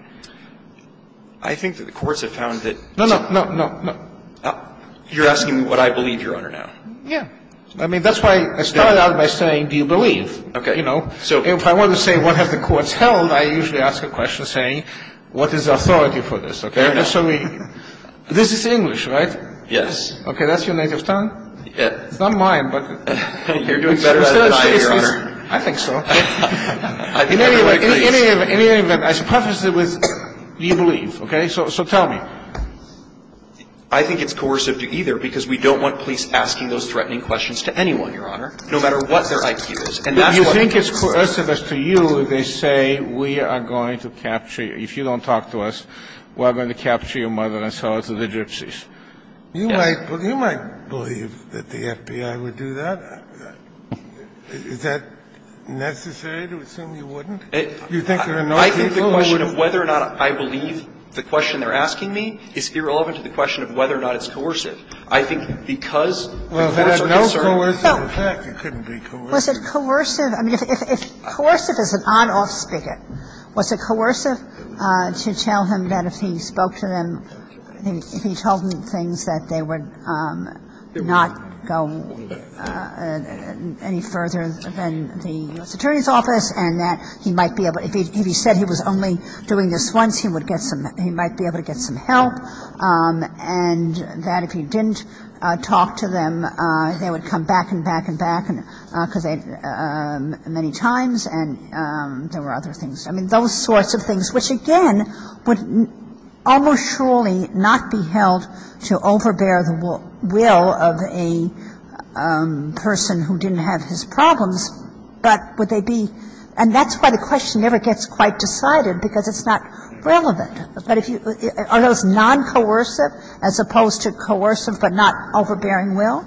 I think that the courts have found that. No, no, no, no, no. You're asking what I believe, Your Honor, now. Yeah. I mean, that's why I started out by saying do you believe? Okay. You know, if I want to say what have the courts held, I usually ask a question saying what is the authority for this, okay? And so this is English, right? Yes. Okay. That's your native tongue? Not mine, but. You're doing better than I am, Your Honor. I think so. Anyway, as prefaced with do you believe, okay? So tell me. I think it's coercive, too, either, because we don't want police asking those threatening questions to anyone, Your Honor, no matter what their IQ is. If you think it's coercive as to you, they say we are going to capture you. If you don't talk to us, we're going to capture your mother and sell her to the gypsies. You might believe that the FBI would do that. Is that necessary to assume you wouldn't? I think the question of whether or not I believe the question they're asking me is irrelevant to the question of whether or not it's coercive. I think because the courts are concerned. Well, if it had no coercion, in fact, it couldn't be coercive. Was it coercive? I mean, if coercive is an odd-off stigma, was it coercive to tell him that if he spoke to them, if he told them things that they would not go any further than the U.S. Attorney's Office and that if he said he was only doing this once, he might be able to get some help, and that if he didn't talk to them, they would come back and back and back many times, and there were other things. I mean, those sorts of things, which, again, would almost surely not be held to overbear the will of a person who didn't have his problems, but would they be? And that's why the question never gets quite decided, because it's not relevant. Are those non-coercive as opposed to coercive but not overbearing will?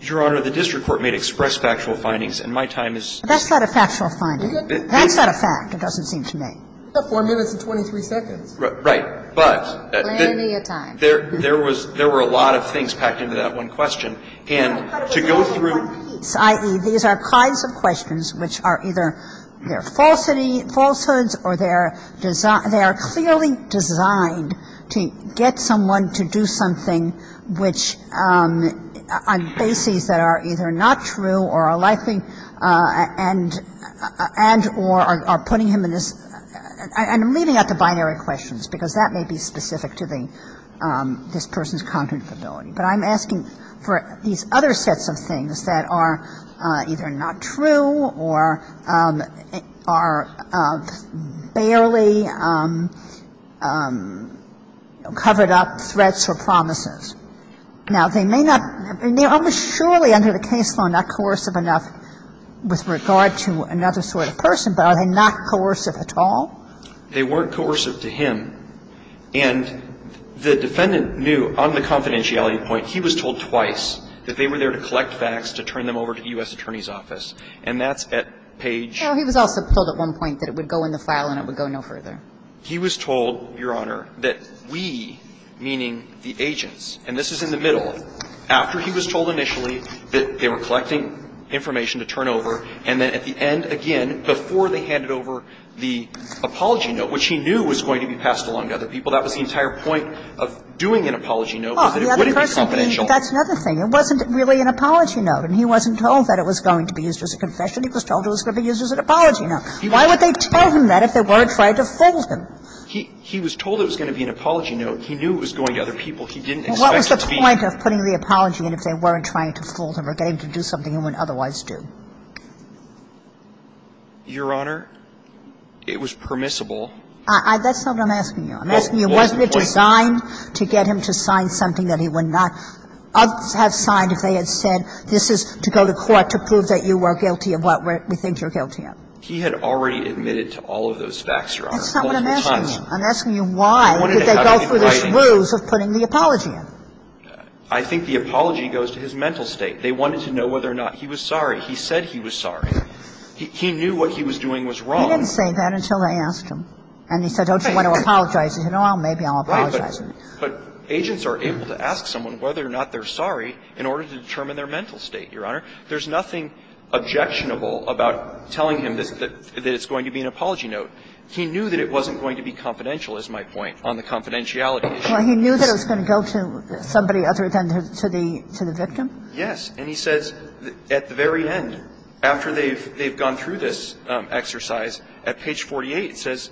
Your Honor, the district court may express factual findings, and my time is... That's not a factual finding. That's not a fact. It doesn't seem to me. It took one minute and 23 seconds. Right. But... Plenty of time. There were a lot of things packed into that one question, and to go through... I.e., these are kinds of questions which are either falsehoods or they are clearly designed to get someone to do something which are bases that are either not true or are likely... and or are putting him in this... I'm leaving out the binary questions, because that may be specific to this person's cognitive ability. But I'm asking for these other sets of things that are either not true or are barely covered up threats or promises. Now, they may not... Surely under the case law not coercive enough with regard to another sort of person, but are they not coercive at all? They weren't coercive to him. And the defendant knew on the confidentiality point, he was told twice that they were there to collect facts to turn them over to the U.S. Attorney's Office. And that's at page... Well, he was also told at one point that it would go in the file and it would go no further. He was told, Your Honor, that we, meaning the agents, and this is in the middle, after he was told initially that they were collecting information to turn over, and then at the end, again, before they handed over the apology note, which he knew was going to be passed along to other people, that was the entire point of doing an apology note was that it wouldn't be confidential. That's another thing. It wasn't really an apology note, and he wasn't told that it was going to be used as a confession. He was told it was going to be used as an apology note. Why would they tell him that if they weren't trying to fool him? He was told it was going to be an apology note. He knew it was going to other people. He didn't expect it to be... What was the point of putting the apology in if they weren't trying to fool him or getting him to do something he wouldn't otherwise do? Your Honor, it was permissible... That's not what I'm asking you. I'm asking you, was it designed to get him to sign something that he would not have signed if they had said this is to go to court to prove that you were guilty of what we think you're guilty of? He had already admitted to all of those facts, Your Honor. That's not what I'm asking you. I'm asking you why. I think the apology goes to his mental state. They wanted to know whether or not he was sorry. He said he was sorry. He knew what he was doing was wrong. He didn't say that until they asked him. And he said, I don't want to apologize. And he said, well, maybe I'll apologize. But agents are able to ask someone whether or not they're sorry in order to determine their mental state, Your Honor. There's nothing objectionable about telling him that it's going to be an apology note. Well, he knew that it was going to go to somebody other than the victim? Yes. And he says at the very end, after they've gone through this exercise, at page 48, he says,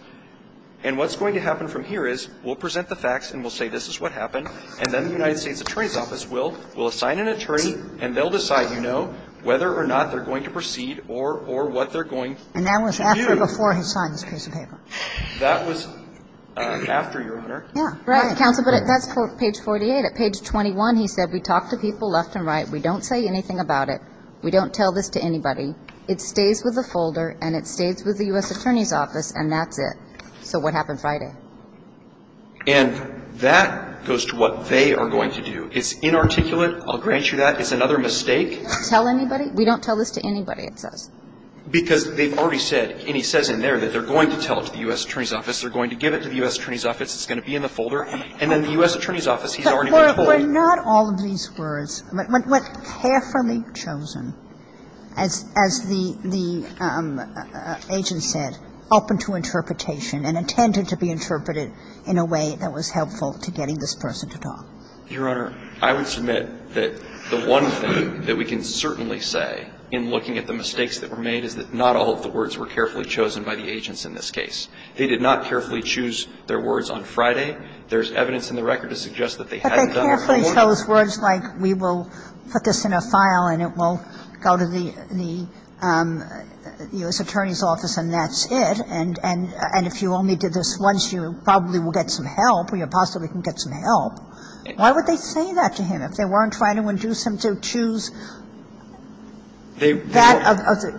and what's going to happen from here is we'll present the facts and we'll say this is what happened, and then the United States Attorney's Office will assign an attorney and they'll decide, you know, whether or not they're going to proceed or what they're going to do. And that was after or before his signing, Mr. Caput? That was after, Your Honor. Yeah, right. But that's page 48. At page 21, he said, we talked to people left and right. We don't say anything about it. We don't tell this to anybody. It stays with the folder and it stays with the U.S. Attorney's Office and that's it. So what happened Friday? And that goes to what they are going to do. It's inarticulate. I'll grant you that. It's another mistake. Tell anybody? We don't tell this to anybody, it says. Because they've already said, and he says in there, that they're going to tell it to the U.S. Attorney's Office. They're going to give it to the U.S. Attorney's Office. It's going to be in the folder. And then the U.S. Attorney's Office, he's already been told. But not all of these words. What's carefully chosen, as the agent said, open to interpretation and intended to be interpreted in a way that was helpful to getting this person to talk. Your Honor, I would submit that the one thing that we can certainly say in looking at the mistakes that were made is that not all of the words were carefully chosen by the agents in this case. They did not carefully choose their words on Friday. There's evidence in the record to suggest that they hadn't done it. But they carefully chose words like, we will put this in a file and it will go to the U.S. Attorney's Office and that's it. And if you only did this once, you probably will get some help or you possibly can get some help. Why would they say that to him if they weren't trying to induce him to choose that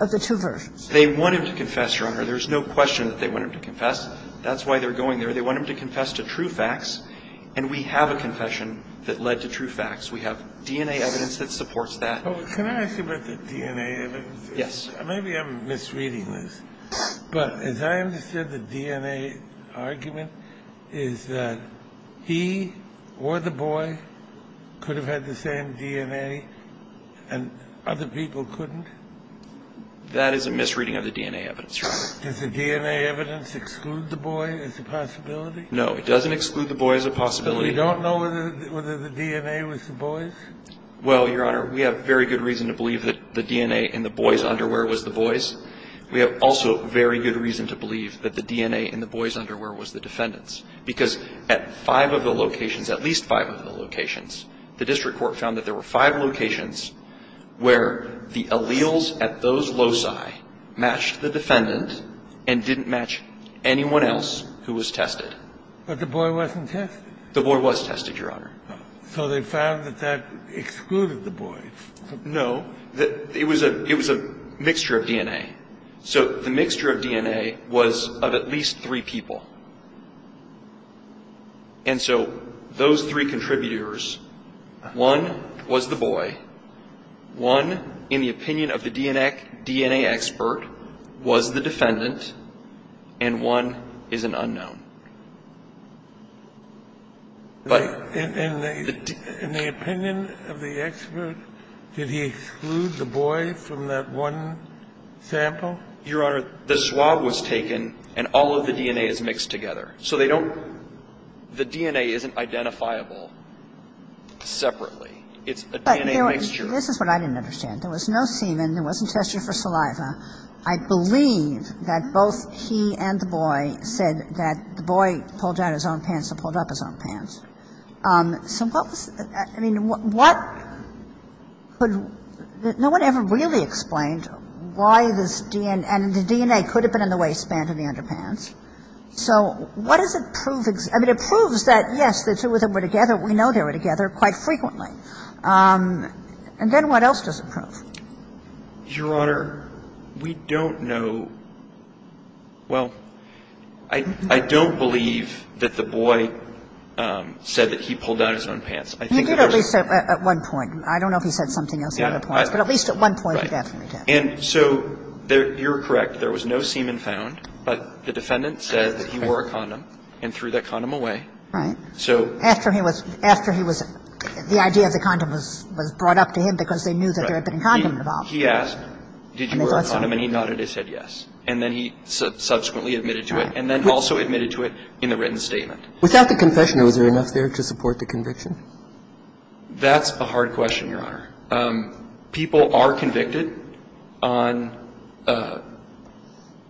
of the two versions? They want him to confess, Your Honor. There's no question that they want him to confess. That's why they're going there. They want him to confess to true facts. And we have a confession that led to true facts. We have DNA evidence that supports that. Well, can I ask about the DNA evidence? Yes. Maybe I'm misreading this. But as I understand the DNA argument is that he or the boy could have had the same DNA and other people couldn't? That is a misreading of the DNA evidence, Your Honor. Does the DNA evidence exclude the boy as a possibility? No, it doesn't exclude the boy as a possibility. You don't know whether the DNA was the boy's? Well, Your Honor, we have very good reason to believe that the DNA in the boy's underwear was the boy's. We have also very good reason to believe that the DNA in the boy's underwear was the defendant's. Because at five of the locations, at least five of the locations, the district court found that there were five locations where the alleles at those loci matched the defendant and didn't match anyone else who was tested. But the boy wasn't tested? The boy was tested, Your Honor. So they found that that excluded the boy? No. It was a mixture of DNA. So the mixture of DNA was of at least three people. And so those three contributors, one was the boy, one, in the opinion of the DNA expert, was the defendant, and one is an unknown. In the opinion of the expert, did he exclude the boy from that one sample? Your Honor, the swab was taken and all of the DNA is mixed together. So the DNA isn't identifiable separately. It's a DNA mixture. This is what I didn't understand. There was no semen. There wasn't test for saliva. I believe that both he and the boy said that the boy pulled down his own pants and pulled up his own pants. So what was the question? I mean, what could ñ no one ever really explained why this DNA ñ and the DNA could have been in the waistband of the underpants. So what does it prove? I mean, it proves that, yes, the two of them were together. We know they were together quite frequently. And then what else does it prove? Your Honor, we don't know ñ well, I don't believe that the boy said that he pulled down his own pants. I think it was ñ He did at least at one point. I don't know if he said something else at that point. But at least at one point he asked me to. And so you're correct. There was no semen found. But the defendant said that he wore a condom and threw that condom away. After he was ñ the idea of the condom was brought up to him because they knew that there had been a condom involved. He asked, did you wear a condom? And he nodded and said yes. And then he subsequently admitted to it and then also admitted to it in a written statement. Without the confession, was there enough there to support the conviction? That's a hard question, Your Honor. People are convicted on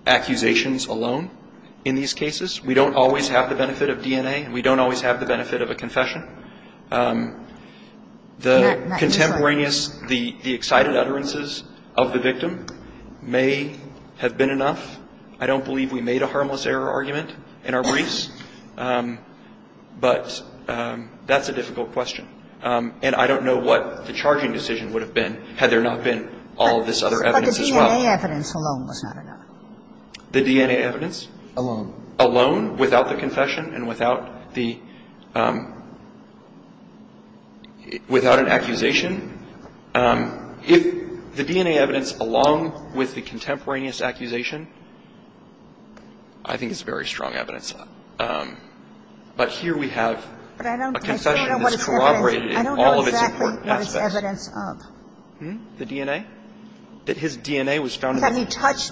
accusations alone in these cases. We don't always have the benefit of DNA. We don't always have the benefit of a confession. The contemporaneous ñ the excited utterances of the victim may have been enough. I don't believe we made a harmless error argument in our briefs. But that's a difficult question. And I don't know what the charging decision would have been had there not been all this other evidence as well. But the DNA evidence alone was not enough. The DNA evidence? Alone. Alone without the confession and without the ñ without an accusation. If the DNA evidence along with the contemporaneous accusation, I think it's very strong evidence. But here we have a confession that's corroborated in all of its important aspects. I don't know exactly what it's evidence of. The DNA? That he touched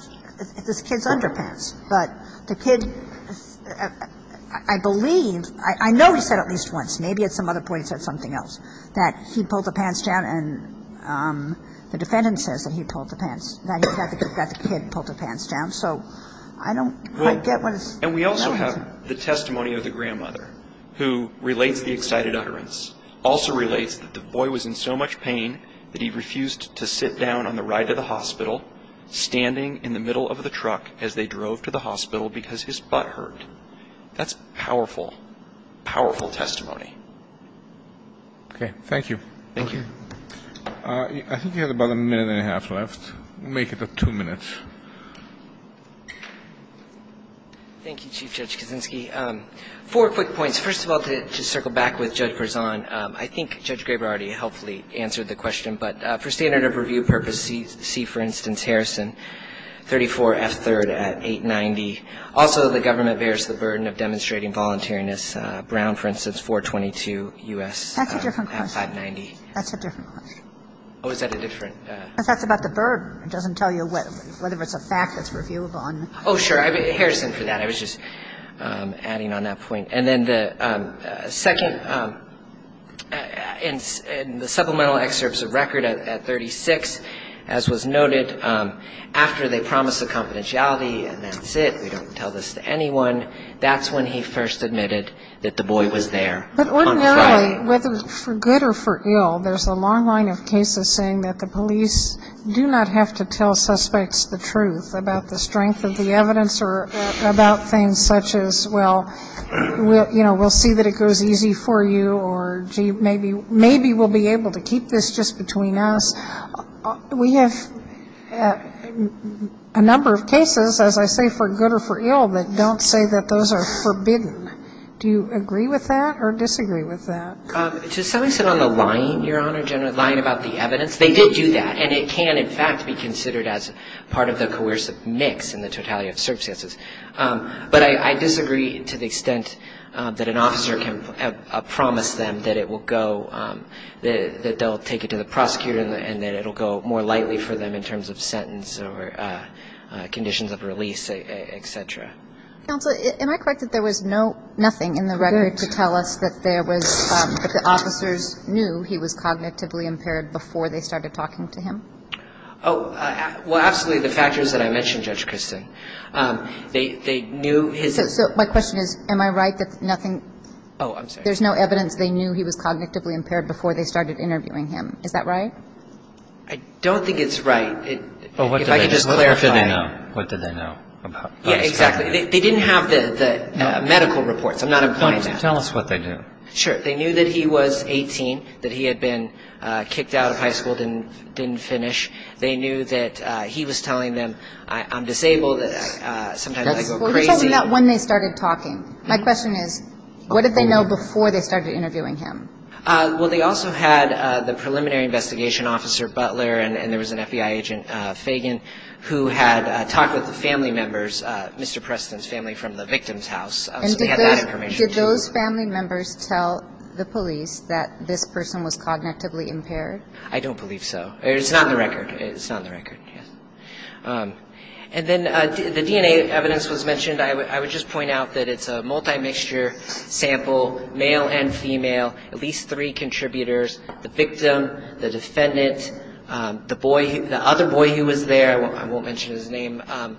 this kid's underpants. But the kid ñ I believe ñ I know he said at least once, maybe at some other point he said something else, that he pulled the pants down. And the defendant says that he pulled the pants ñ that the kid pulled the pants down. So I don't ñ And we also have the testimony of the grandmother who relates the excited utterance, also relates that the boy was in so much pain that he refused to sit down on the ride to the hospital, standing in the middle of the truck as they drove to the hospital because his butt hurt. That's powerful, powerful testimony. Okay. Thank you. Thank you. I think we have about a minute and a half left. We'll make it two minutes. Thank you, Chief Judge Kaczynski. Four quick points. First of all, to circle back with Judge Berzon, I think Judge Graber already helpfully answered the question. But for standard of review purposes, see, for instance, Harrison, 34S3rd at 890. Also, the government bears the burden of demonstrating voluntariness. Brown, for instance, 422 U.S. at 590. That's a different question. That's a different question. Oh, is that a different ñ I talked about the burden. It doesn't tell you whether it's a fact that's reviewed on ñ Oh, sure. Harrison for that. I was just adding on that point. And then the second ñ in the supplemental excerpts of record at 36, as was noted, after they promised the confidentiality, and that's it, we don't have to tell this to anyone, that's when he first admitted that the boy was there. But right now, whether it's for good or for ill, there's a long line of cases saying that the police do not have to tell We'll see that it goes easy for you, or maybe we'll be able to keep this just between us. We have a number of cases, as I say, for good or for ill, that don't say that those are forbidden. Do you agree with that or disagree with that? To some extent on the line, Your Honor, about the evidence, they did do that. And it can, in fact, be considered as part of the coercive mix in the totality of circumstances. But I disagree to the extent that an officer can promise them that it will go ñ that they'll take it to the prosecutor and that it'll go more lightly for them in terms of sentence or conditions of release, et cetera. Counselor, am I correct that there was nothing in the record to tell us that there was ñ that the officers knew he was cognitively impaired before they started talking to him? Oh, well, absolutely, the factors that I mentioned, Judge Christin. They knew his ñ My question is, am I right that nothing ñ Oh, I'm sorry. There's no evidence they knew he was cognitively impaired before they started interviewing him. Is that right? I don't think it's right. Oh, what did they know? If I could just clarify. What did they know? Yeah, exactly. They didn't have the medical reports. I'm not implying that. Tell us what they knew. Sure. They knew that he was 18, that he had been kicked out of high school, didn't finish. They knew that he was telling them, I'm disabled, that sometimes I go crazy. What did they know when they started talking? My question is, what did they know before they started interviewing him? Well, they also had the preliminary investigation officer, Butler, and there was an FBI agent, Fagan, who had talked with the family members, Mr. Preston's family from the victim's house. Did those family members tell the police that this person was cognitively impaired? I don't believe so. It's not on the record. It's not on the record, yes. And then the DNA evidence was mentioned. I would just point out that it's a multi-mixture sample, male and female, at least three contributors, the victim, the defendant, the other boy who was there ñ I won't mention his name ñ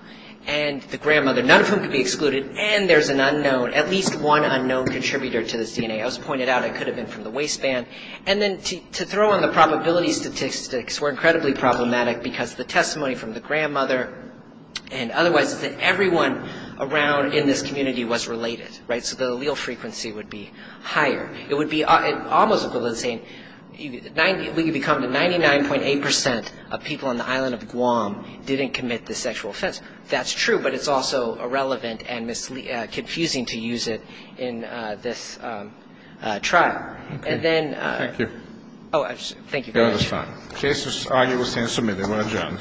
and the grandmother, none of whom could be excluded, and there's an unknown, at least one unknown contributor to the DNA. I just pointed out it could have been from the waistband. And then to throw on the probability statistics were incredibly problematic because the testimony from the grandmother and otherwise everyone around in this community was related. Right? So the allele frequency would be higher. It would be almost equal to saying we can become the 99.8% of people on the island of Guam didn't commit the sexual offense. That's true, but it's also irrelevant and confusing to use it in this trial. Okay. Thank you. Oh, thank you. That was fine. The case is on your list and submitted. Ron Jones. Thank you. Thank you. Thank you. Thank you.